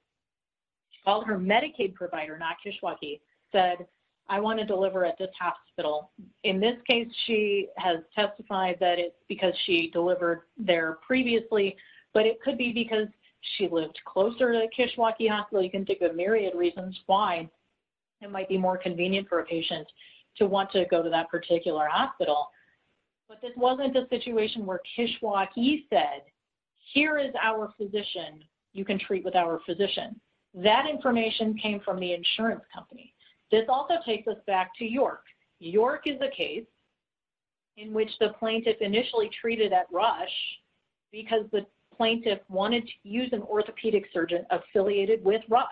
Called her Medicaid provider, not Kishwaukee, said I want to deliver at this hospital. In this case, she has testified that it's because she delivered there previously, but it could be because she lived closer to Kishwaukee hospital. You can think of a myriad of reasons why it might be more convenient for a patient to want to go to that particular hospital. But this wasn't a situation where Kishwaukee said, here is our physician. You can treat with our physician. That information came from the insurance company. This also takes us back to York. York is a case in which the plaintiff initially treated at Rush because the plaintiff wanted to use an orthopedic surgeon affiliated with Rush.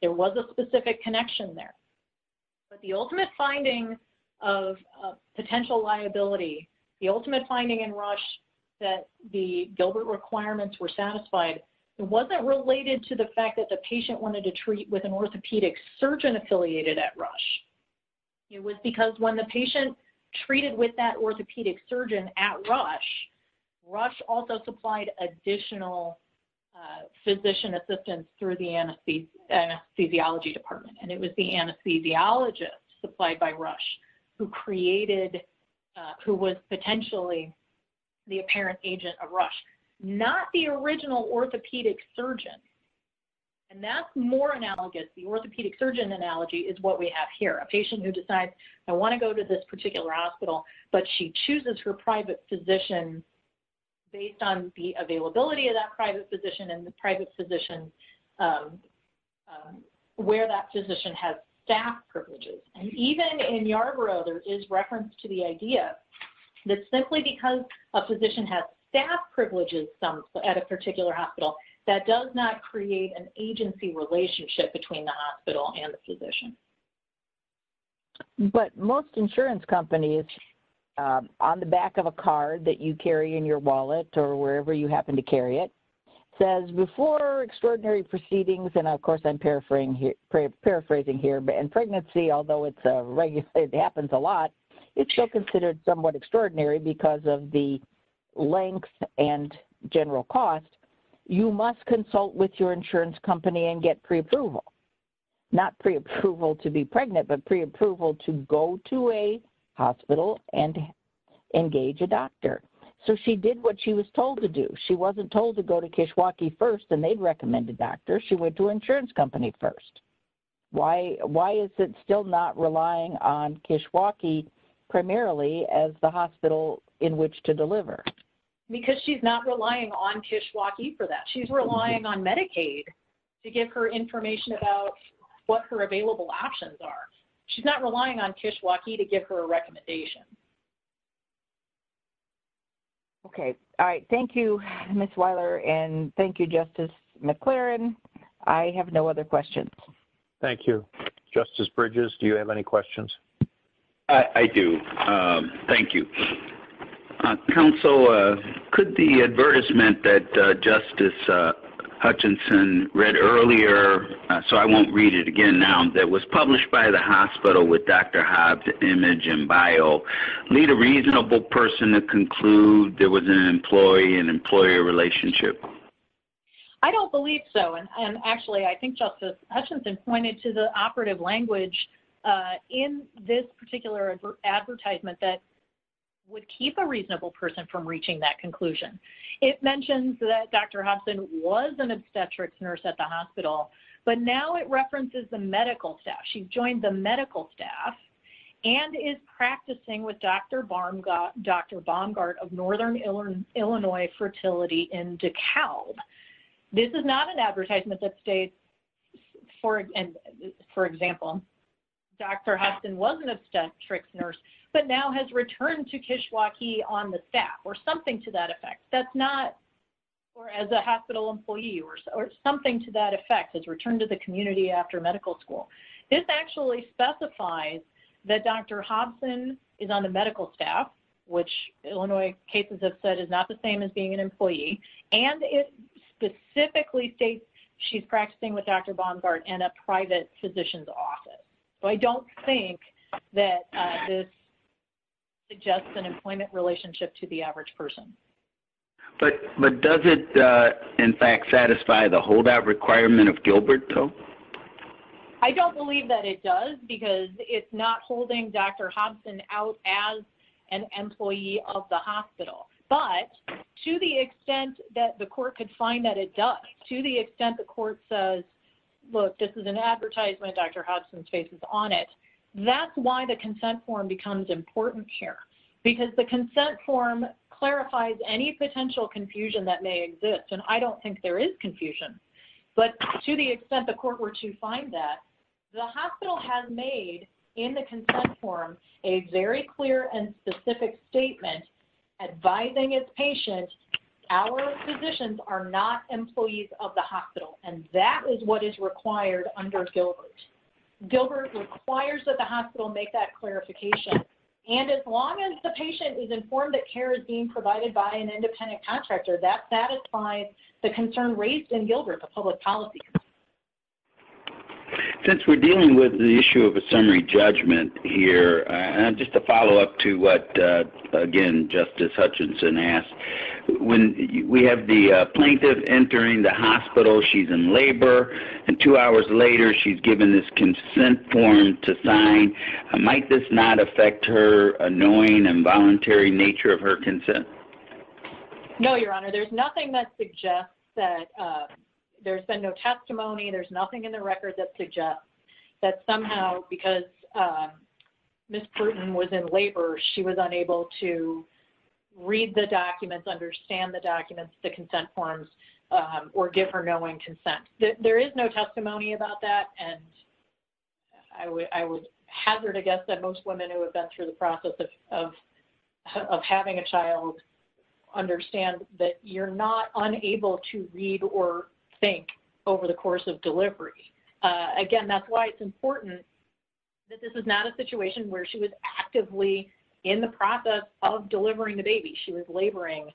There was a specific connection there. But the ultimate finding of potential liability, the ultimate finding in Rush that the Gilbert requirements were satisfied, it wasn't related to the fact that the patient wanted to treat with an orthopedic surgeon affiliated at Rush. It was because when the patient treated with that orthopedic surgeon at Rush, Rush also supplied additional physician assistance through the anesthesiology department. It was the anesthesiologist supplied by Rush who created, who was potentially the apparent agent of Rush. Not the original orthopedic surgeon. And that's more analogous. The orthopedic surgeon analogy is what we have here. A patient who decides, I want to go to this particular hospital, but she chooses her private physician based on the availability of that private physician and where that physician has staff privileges. And even in Yarborough, there is reference to the idea that simply because a physician has staff privileges at a particular hospital, that does not create an agency relationship between the hospital and the physician. But most insurance companies, on the back of a card that you carry in your wallet or wherever you happen to carry it, says before extraordinary proceedings, and of course I'm paraphrasing here, in pregnancy, although it happens a lot, if she's considered somewhat extraordinary because of the length and general cost, you must consult with your insurance company and get preapproval. Not preapproval to be pregnant, but preapproval to go to a hospital and engage a doctor. So she did what she was told to do. She wasn't told to go to Kishwaukee first, they recommended a doctor, she went to an insurance company first. Why is it still not relying on Kishwaukee primarily as the hospital in which to deliver? Because she's not relying on Kishwaukee for that. She's relying on Medicaid to give her information about what her available options are. She's not relying on Kishwaukee to give her a recommendation. Okay. All right. Thank you, Ms. Wyler, and thank you, Justice McClaren. I have no other questions. Thank you. Justice Bridges, do you have any questions? I do. Thank you. Counsel, could the advertisement that Justice Hutchinson read earlier, so I won't read it again now, that was published by the hospital with Dr. Hobbs' image and bio, need a reasonable person to conclude there was an employee and employer relationship? I don't believe so. Actually, I think Justice Hutchinson pointed to the operative language in this particular advertisement that would keep a reasonable person from reaching that conclusion. It mentions that Dr. Hobbs was an obstetrics nurse at the hospital, but now it references the medical staff. She joined the medical staff and is practicing with Dr. Baumgart of Northern Illinois Fertility in DeKalb. This is not an advertisement that states, for example, Dr. Hobbs was an obstetrics nurse, but now has returned to Kishwaukee on the staff, or something to that effect. That's not, or as a hospital employee, or something to that effect, has returned to the community after medical school. This actually specifies that Dr. Hobson is on the medical staff, which Illinois cases have said is not the same as being an employee, and it specifically states she's practicing with Dr. Baumgart in a private physician's office. So, I don't think that this suggests an employment relationship to the average person. But does it, in fact, satisfy the holdout requirement of Gilbert, though? I don't believe that it does, because it's not holding Dr. Hobson out as an employee of the hospital, but to the extent that the court could find that it does, to the extent the court says, look, this is an advertisement, Dr. Hobson's face is on it, that's why the consent form becomes important here, because the consent form clarifies any potential confusion that may exist, and I don't think there is confusion. But to the extent the court were to find that, the hospital has made, in the consent form, a very clear and specific statement advising its patients our physicians are not employees of the hospital, and that is what is required under Gilbert. Gilbert requires that the hospital make that clarification. And as long as the patient is informed that care is being provided by an independent contractor, that satisfies the concern raised in Gilbert, the public policy. Since we're dealing with the issue of a summary judgment here, and just to follow up to what, again, Justice Hutchinson asked, when we have the plaintiff entering the hospital, she's in labor, and two hours later, she's given this consent form to sign, might this not affect her knowing and voluntary nature of her consent? No, Your Honor, there's nothing that suggests that, there's been no testimony, there's nothing in the record that suggests that somehow, because Ms. Bruton was in labor, she was unable to read the documents, understand the documents, the consent forms, or give her knowing consent. There is no testimony about that, and I would hazard a guess that most women who have been through the process of having a child understand that you're not unable to read or think over the course of delivery. Again, that's why it's important that this is not a situation where she was actively in the process of delivering the baby, she was laboring,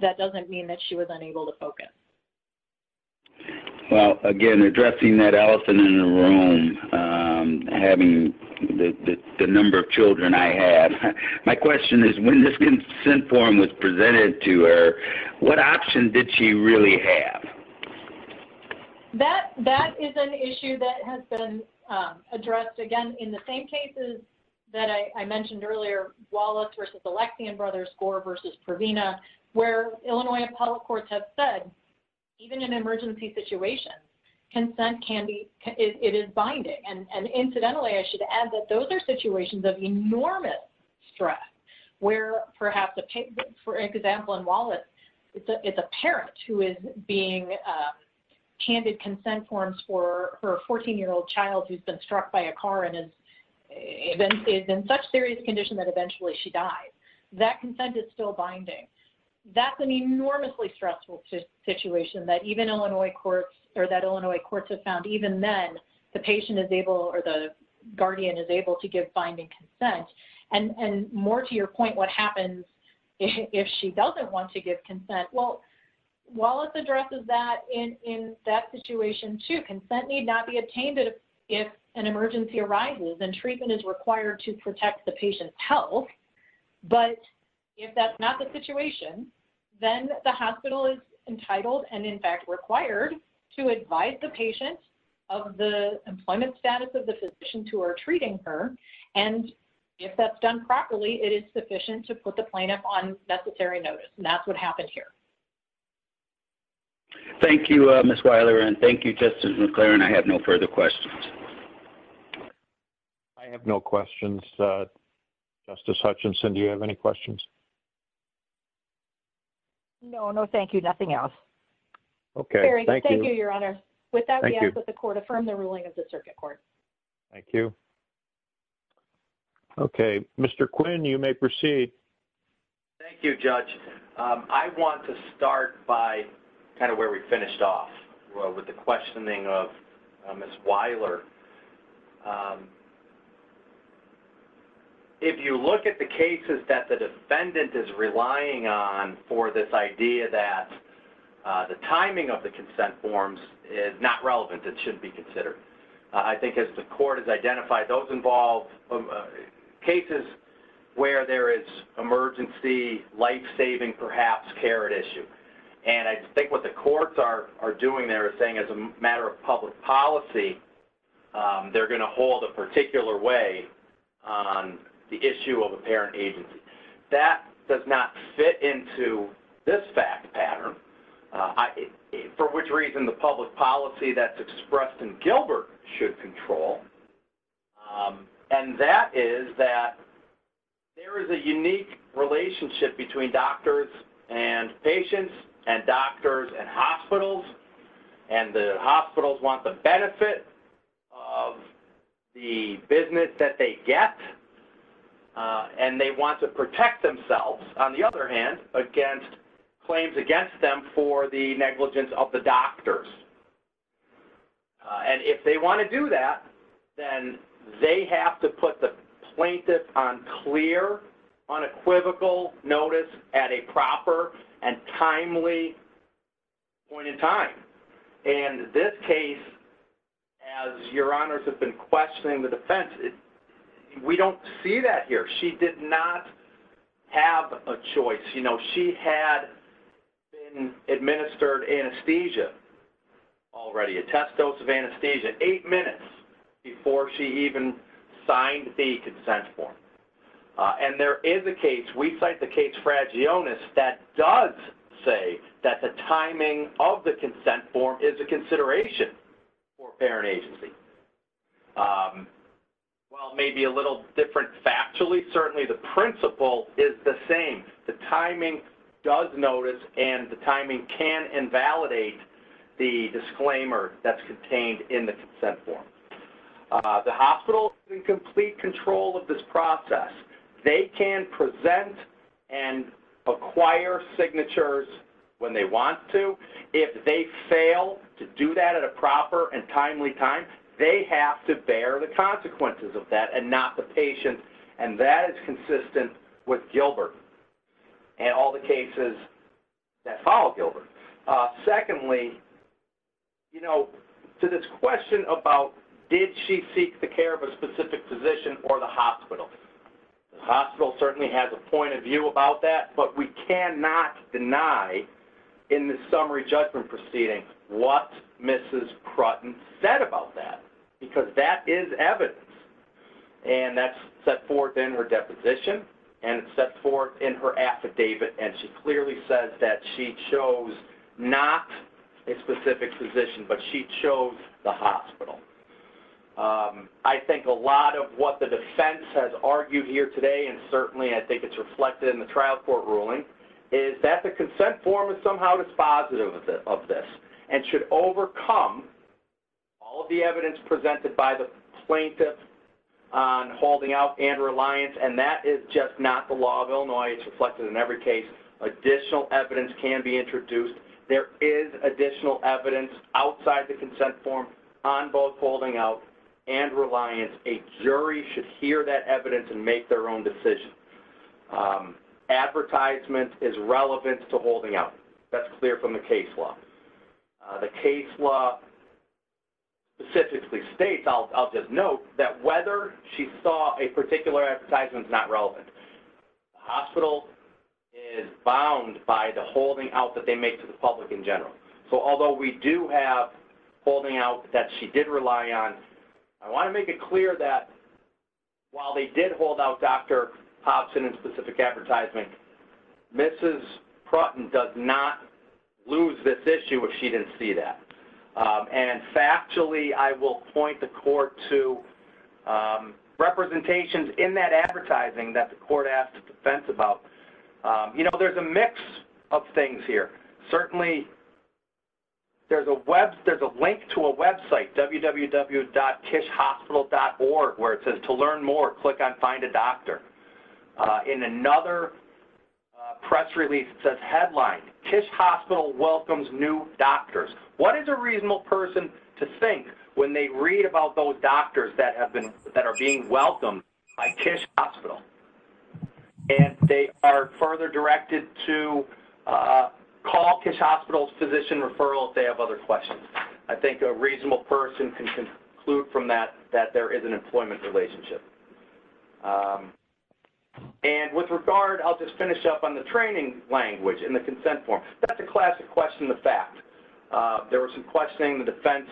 that doesn't mean that was unable to focus. Well, again, addressing that elephant in the room, having the number of children I have, my question is, when this consent form was presented to her, what option did she really have? That is an issue that has been addressed, again, in the same cases that I have said, even in emergency situations, consent is binding. Incidentally, I should add that those are situations of enormous stress, where perhaps, for example, in Wallace, it's a parent who is being handed consent forms for a 14-year-old child who's been struck by a car and is in such serious condition that eventually she dies. That consent is still binding. That's an enormously stressful situation that even Illinois courts or that Illinois courts have found, even then, the patient is able or the guardian is able to give binding consent. And more to your point, what happens if she doesn't want to give consent? Well, Wallace addresses that in that situation, too. Consent need not be obtained if an emergency arises and treatment is required to protect the patient. The hospital is entitled and, in fact, required to advise the patient of the employment status of the physicians who are treating her. And if that's done properly, it is sufficient to put the plaintiff on necessary notice. And that's what happened here. Thank you, Ms. Weiler. And thank you, Justice McClaren. I have no further questions. I have no questions. Justice Hutchinson, do you have any questions? No. No, thank you. Nothing else. Okay. Very good. Thank you, Your Honor. With that, we ask that the Court affirm the ruling of the Circuit Court. Thank you. Okay. Mr. Quinn, you may proceed. Thank you, Judge. I want to start by kind of where we finished off, with the questioning of Ms. Weiler. If you look at the cases that the defendant is relying on for this idea that the timing of the consent forms is not relevant, it shouldn't be considered. I think, as the Court has identified, those involve cases where there is emergency, life-saving, perhaps, care at issue. And I think the courts are doing their thing as a matter of public policy. They're going to hold a particular way on the issue of a parent agency. That does not fit into this fact pattern, for which reason the public policy that's expressed in Gilbert should control. And that is that there is a unique relationship between doctors and patients and doctors and hospitals. And the hospitals want the benefit of the business that they get. And they want to protect themselves, on the other hand, against claims against them for the negligence of the doctors. And if they want to do that, then they have to put the plaintiff on clear, unequivocal notice at a proper and timely point in time. And this case, as Your Honors has been questioning the defense, we don't see that here. She did not have a choice. She had been administered anesthesia. Already a test dose of anesthesia eight minutes before she even signed a consent form. And there is a case, we cite the case Fragionis, that does say that the timing of the consent form is a consideration for a parent agency. While maybe a little different factually, certainly the disclaimer that's contained in the consent form. The hospital is in complete control of this process. They can present and acquire signatures when they want to. If they fail to do that at a proper and timely time, they have to bear the consequences of that and not the patient. And that is consistent with Gilbert and all the cases that follow Gilbert. Secondly, you know, to this question about did she seek the care of a specific physician or the hospital? The hospital certainly has a point of view about that, but we cannot deny in the summary judgment what Mrs. Crutten said about that, because that is evidence. And that's set forth in her deposition and it's set forth in her affidavit and she clearly says that she chose not a specific physician, but she chose the hospital. I think a lot of what the defense has argued here today, and certainly I think it's reflected in the trial court ruling, is that the consent form is somehow dispositive of this and should overcome all the evidence presented by the plaintiff on holding out and reliance, and that is just not the law of Illinois. It's reflected in every case. Additional evidence can be introduced. There is additional evidence outside the consent form on both holding out and reliance. A jury should hear that evidence and their own decision. Advertisement is relevant to holding out. That's clear from the case law. The case law specifically states, I'll just note, that whether she saw a particular advertisement is not relevant. The hospital is bound by the holding out that they make to the public in general. So although we do have holding out that she did rely on, I want to make it clear that while they did hold out Dr. Pops in a specific advertisement, Mrs. Prutten does not lose this issue if she didn't see that. And factually, I will point the court to representations in that advertising that the court asked the defense about. You know, there's a mix of things here. Certainly, there's a link to a website, www.tishhospital.org, where it says to learn more, click on find a doctor. In another press release, it says headline, Tish Hospital welcomes new doctors. What is a reasonable person to think when they read about those doctors that are being referred? I think a reasonable person can conclude from that that there is an employment relationship. And with regard, I'll just finish up on the training language and the consent form. That's a classic question of fact. There was some questioning. The defense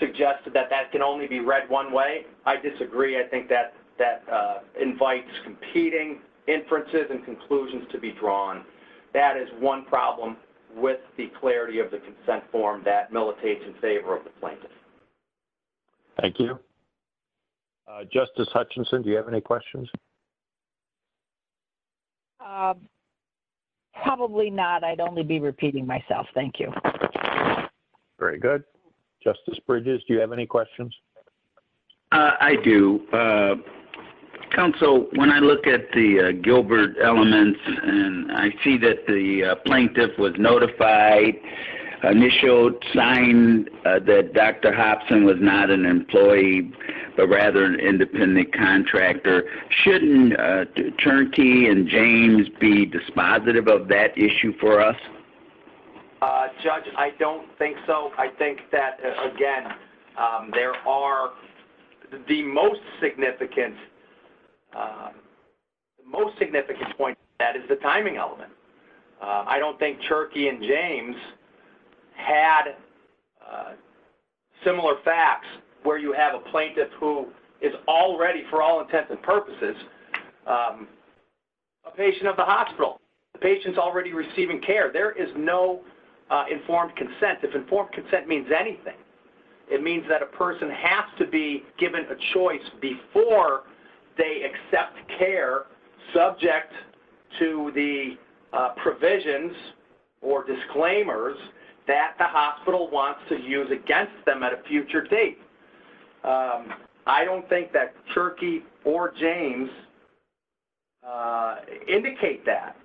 suggested that that can only be read one way. I disagree. I think that invites competing inferences and conclusions to be one problem with the clarity of the consent form that militates in favor of the plaintiff. Thank you. Justice Hutchinson, do you have any questions? Probably not. I'd only be repeating myself. Thank you. Very good. Justice Bridges, do you have any questions? I do. Counsel, when I look at the Gilbert elements and I see that the plaintiff was notified, initial sign that Dr. Hobson was not an employee, but rather an independent contractor, shouldn't Cherokee and James be dispositive of that issue for us? Judge, I don't think so. I think that, again, there are the most significant points. That is the timing element. I don't think Cherokee and James had similar facts where you have a plaintiff who is already, for all intents and purposes, a patient of the hospital. The patient's already receiving care. There is no informed consent. If informed consent means anything, it means that a person has to be given a choice before they accept care subject to the provisions or disclaimers that the hospital wants to use against them at a future date. I don't think that Cherokee or James indicate that.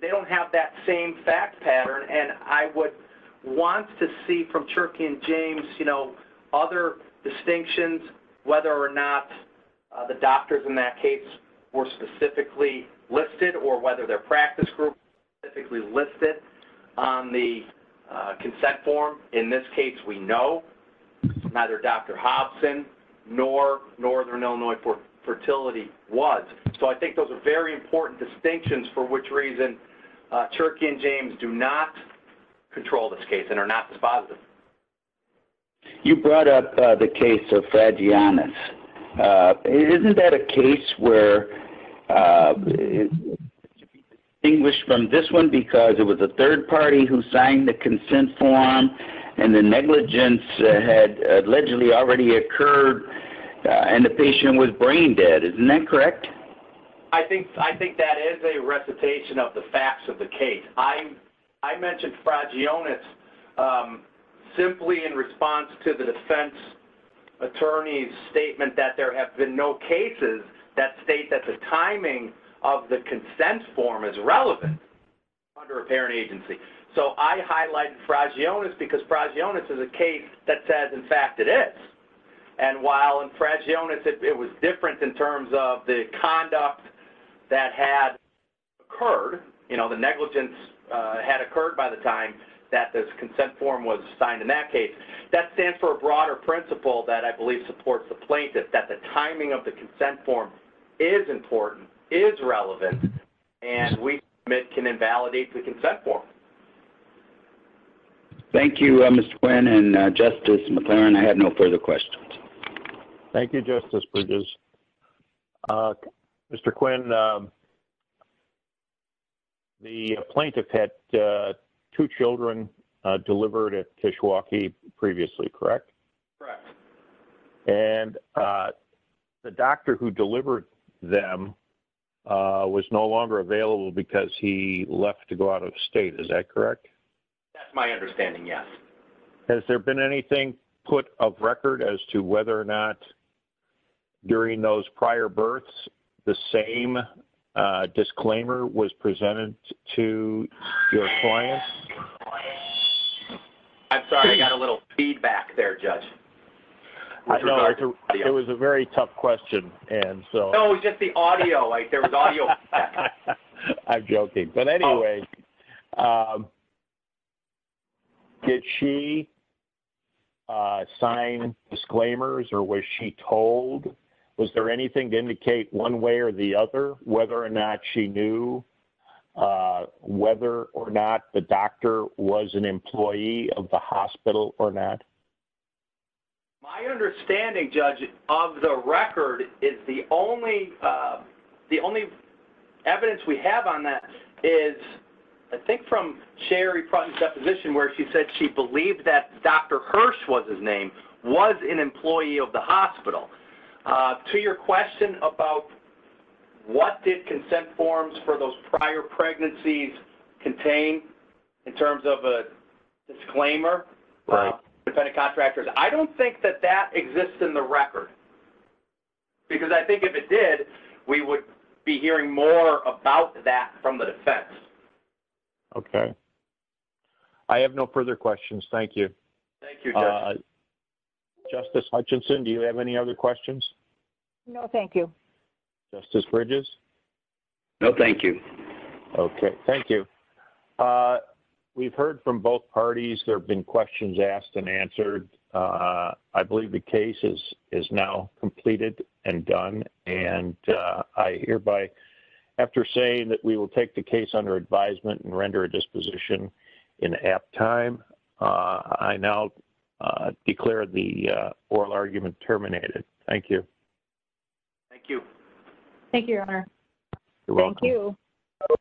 They don't have that same fact pattern. I would want to see from Cherokee and James other distinctions, whether or not the doctors in that case were specifically listed or whether their practice group was specifically on the consent form. In this case, we know neither Dr. Hobson nor Northern Illinois Fertility was. I think those are very important distinctions for which reason Cherokee and James do not control this case and are not dispositive. You brought up the case of Faggiannis. Isn't that a case where the patient was distinguished from this one because it was a third party who signed the consent form and the negligence had allegedly already occurred and the patient was brain dead? I think that is a recitation of the facts of the case. I mentioned Faggiannis simply in response to the defense attorney's statement that there have been no cases that timing of the consent form is relevant under a parent agency. I highlight Faggiannis because Faggiannis is a case that says, in fact, it is. While in Faggiannis, it was different in terms of the conduct that had occurred, the negligence had occurred by the time that this consent form was signed in that case. That stands for a broader principle that I believe supports the plaintiff, that the timing of the consent form is important, is relevant, and we can invalidate the consent form. Thank you, Mr. Quinn and Justice McClaren. I have no further questions. Thank you, Justice Bridges. Mr. Quinn, the plaintiff had two children delivered at Kishwaukee previously, correct? Correct. And the doctor who delivered them was no longer available because he left to go out of state, is that correct? That's my understanding, yes. Has there been anything put of record as to whether or not during those prior births the same disclaimer was presented to your clients? I'm sorry, I got a little feedback there, Judge. It was a very tough question. No, it was just the audio. I'm joking. But anyway, did she sign disclaimers or was she told? Was there anything to indicate one way or the other whether or not she knew whether or not the doctor was an employee of the hospital or not? My understanding, Judge, of the record is the only evidence we have on that is, I think, from Sherry Prutten's deposition where she said she believed that Dr. Hirsch was his name, to your question about what did consent forms for those prior pregnancies contain in terms of a disclaimer? I don't think that that exists in the record because I think if it did, we would be hearing more about that from the defense. Okay. I have no further questions. Thank you. Thank you, Judge. Justice Hutchinson, do you have any other questions? No, thank you. Justice Bridges? No, thank you. Okay, thank you. We've heard from both parties. There have been questions asked and answered. I believe the case is now completed and done, and I hereby, after saying that we will take the case under advisement and render a disposition in apt time, I now declare the oral argument terminated. Thank you. Thank you. Thank you, Your Honor.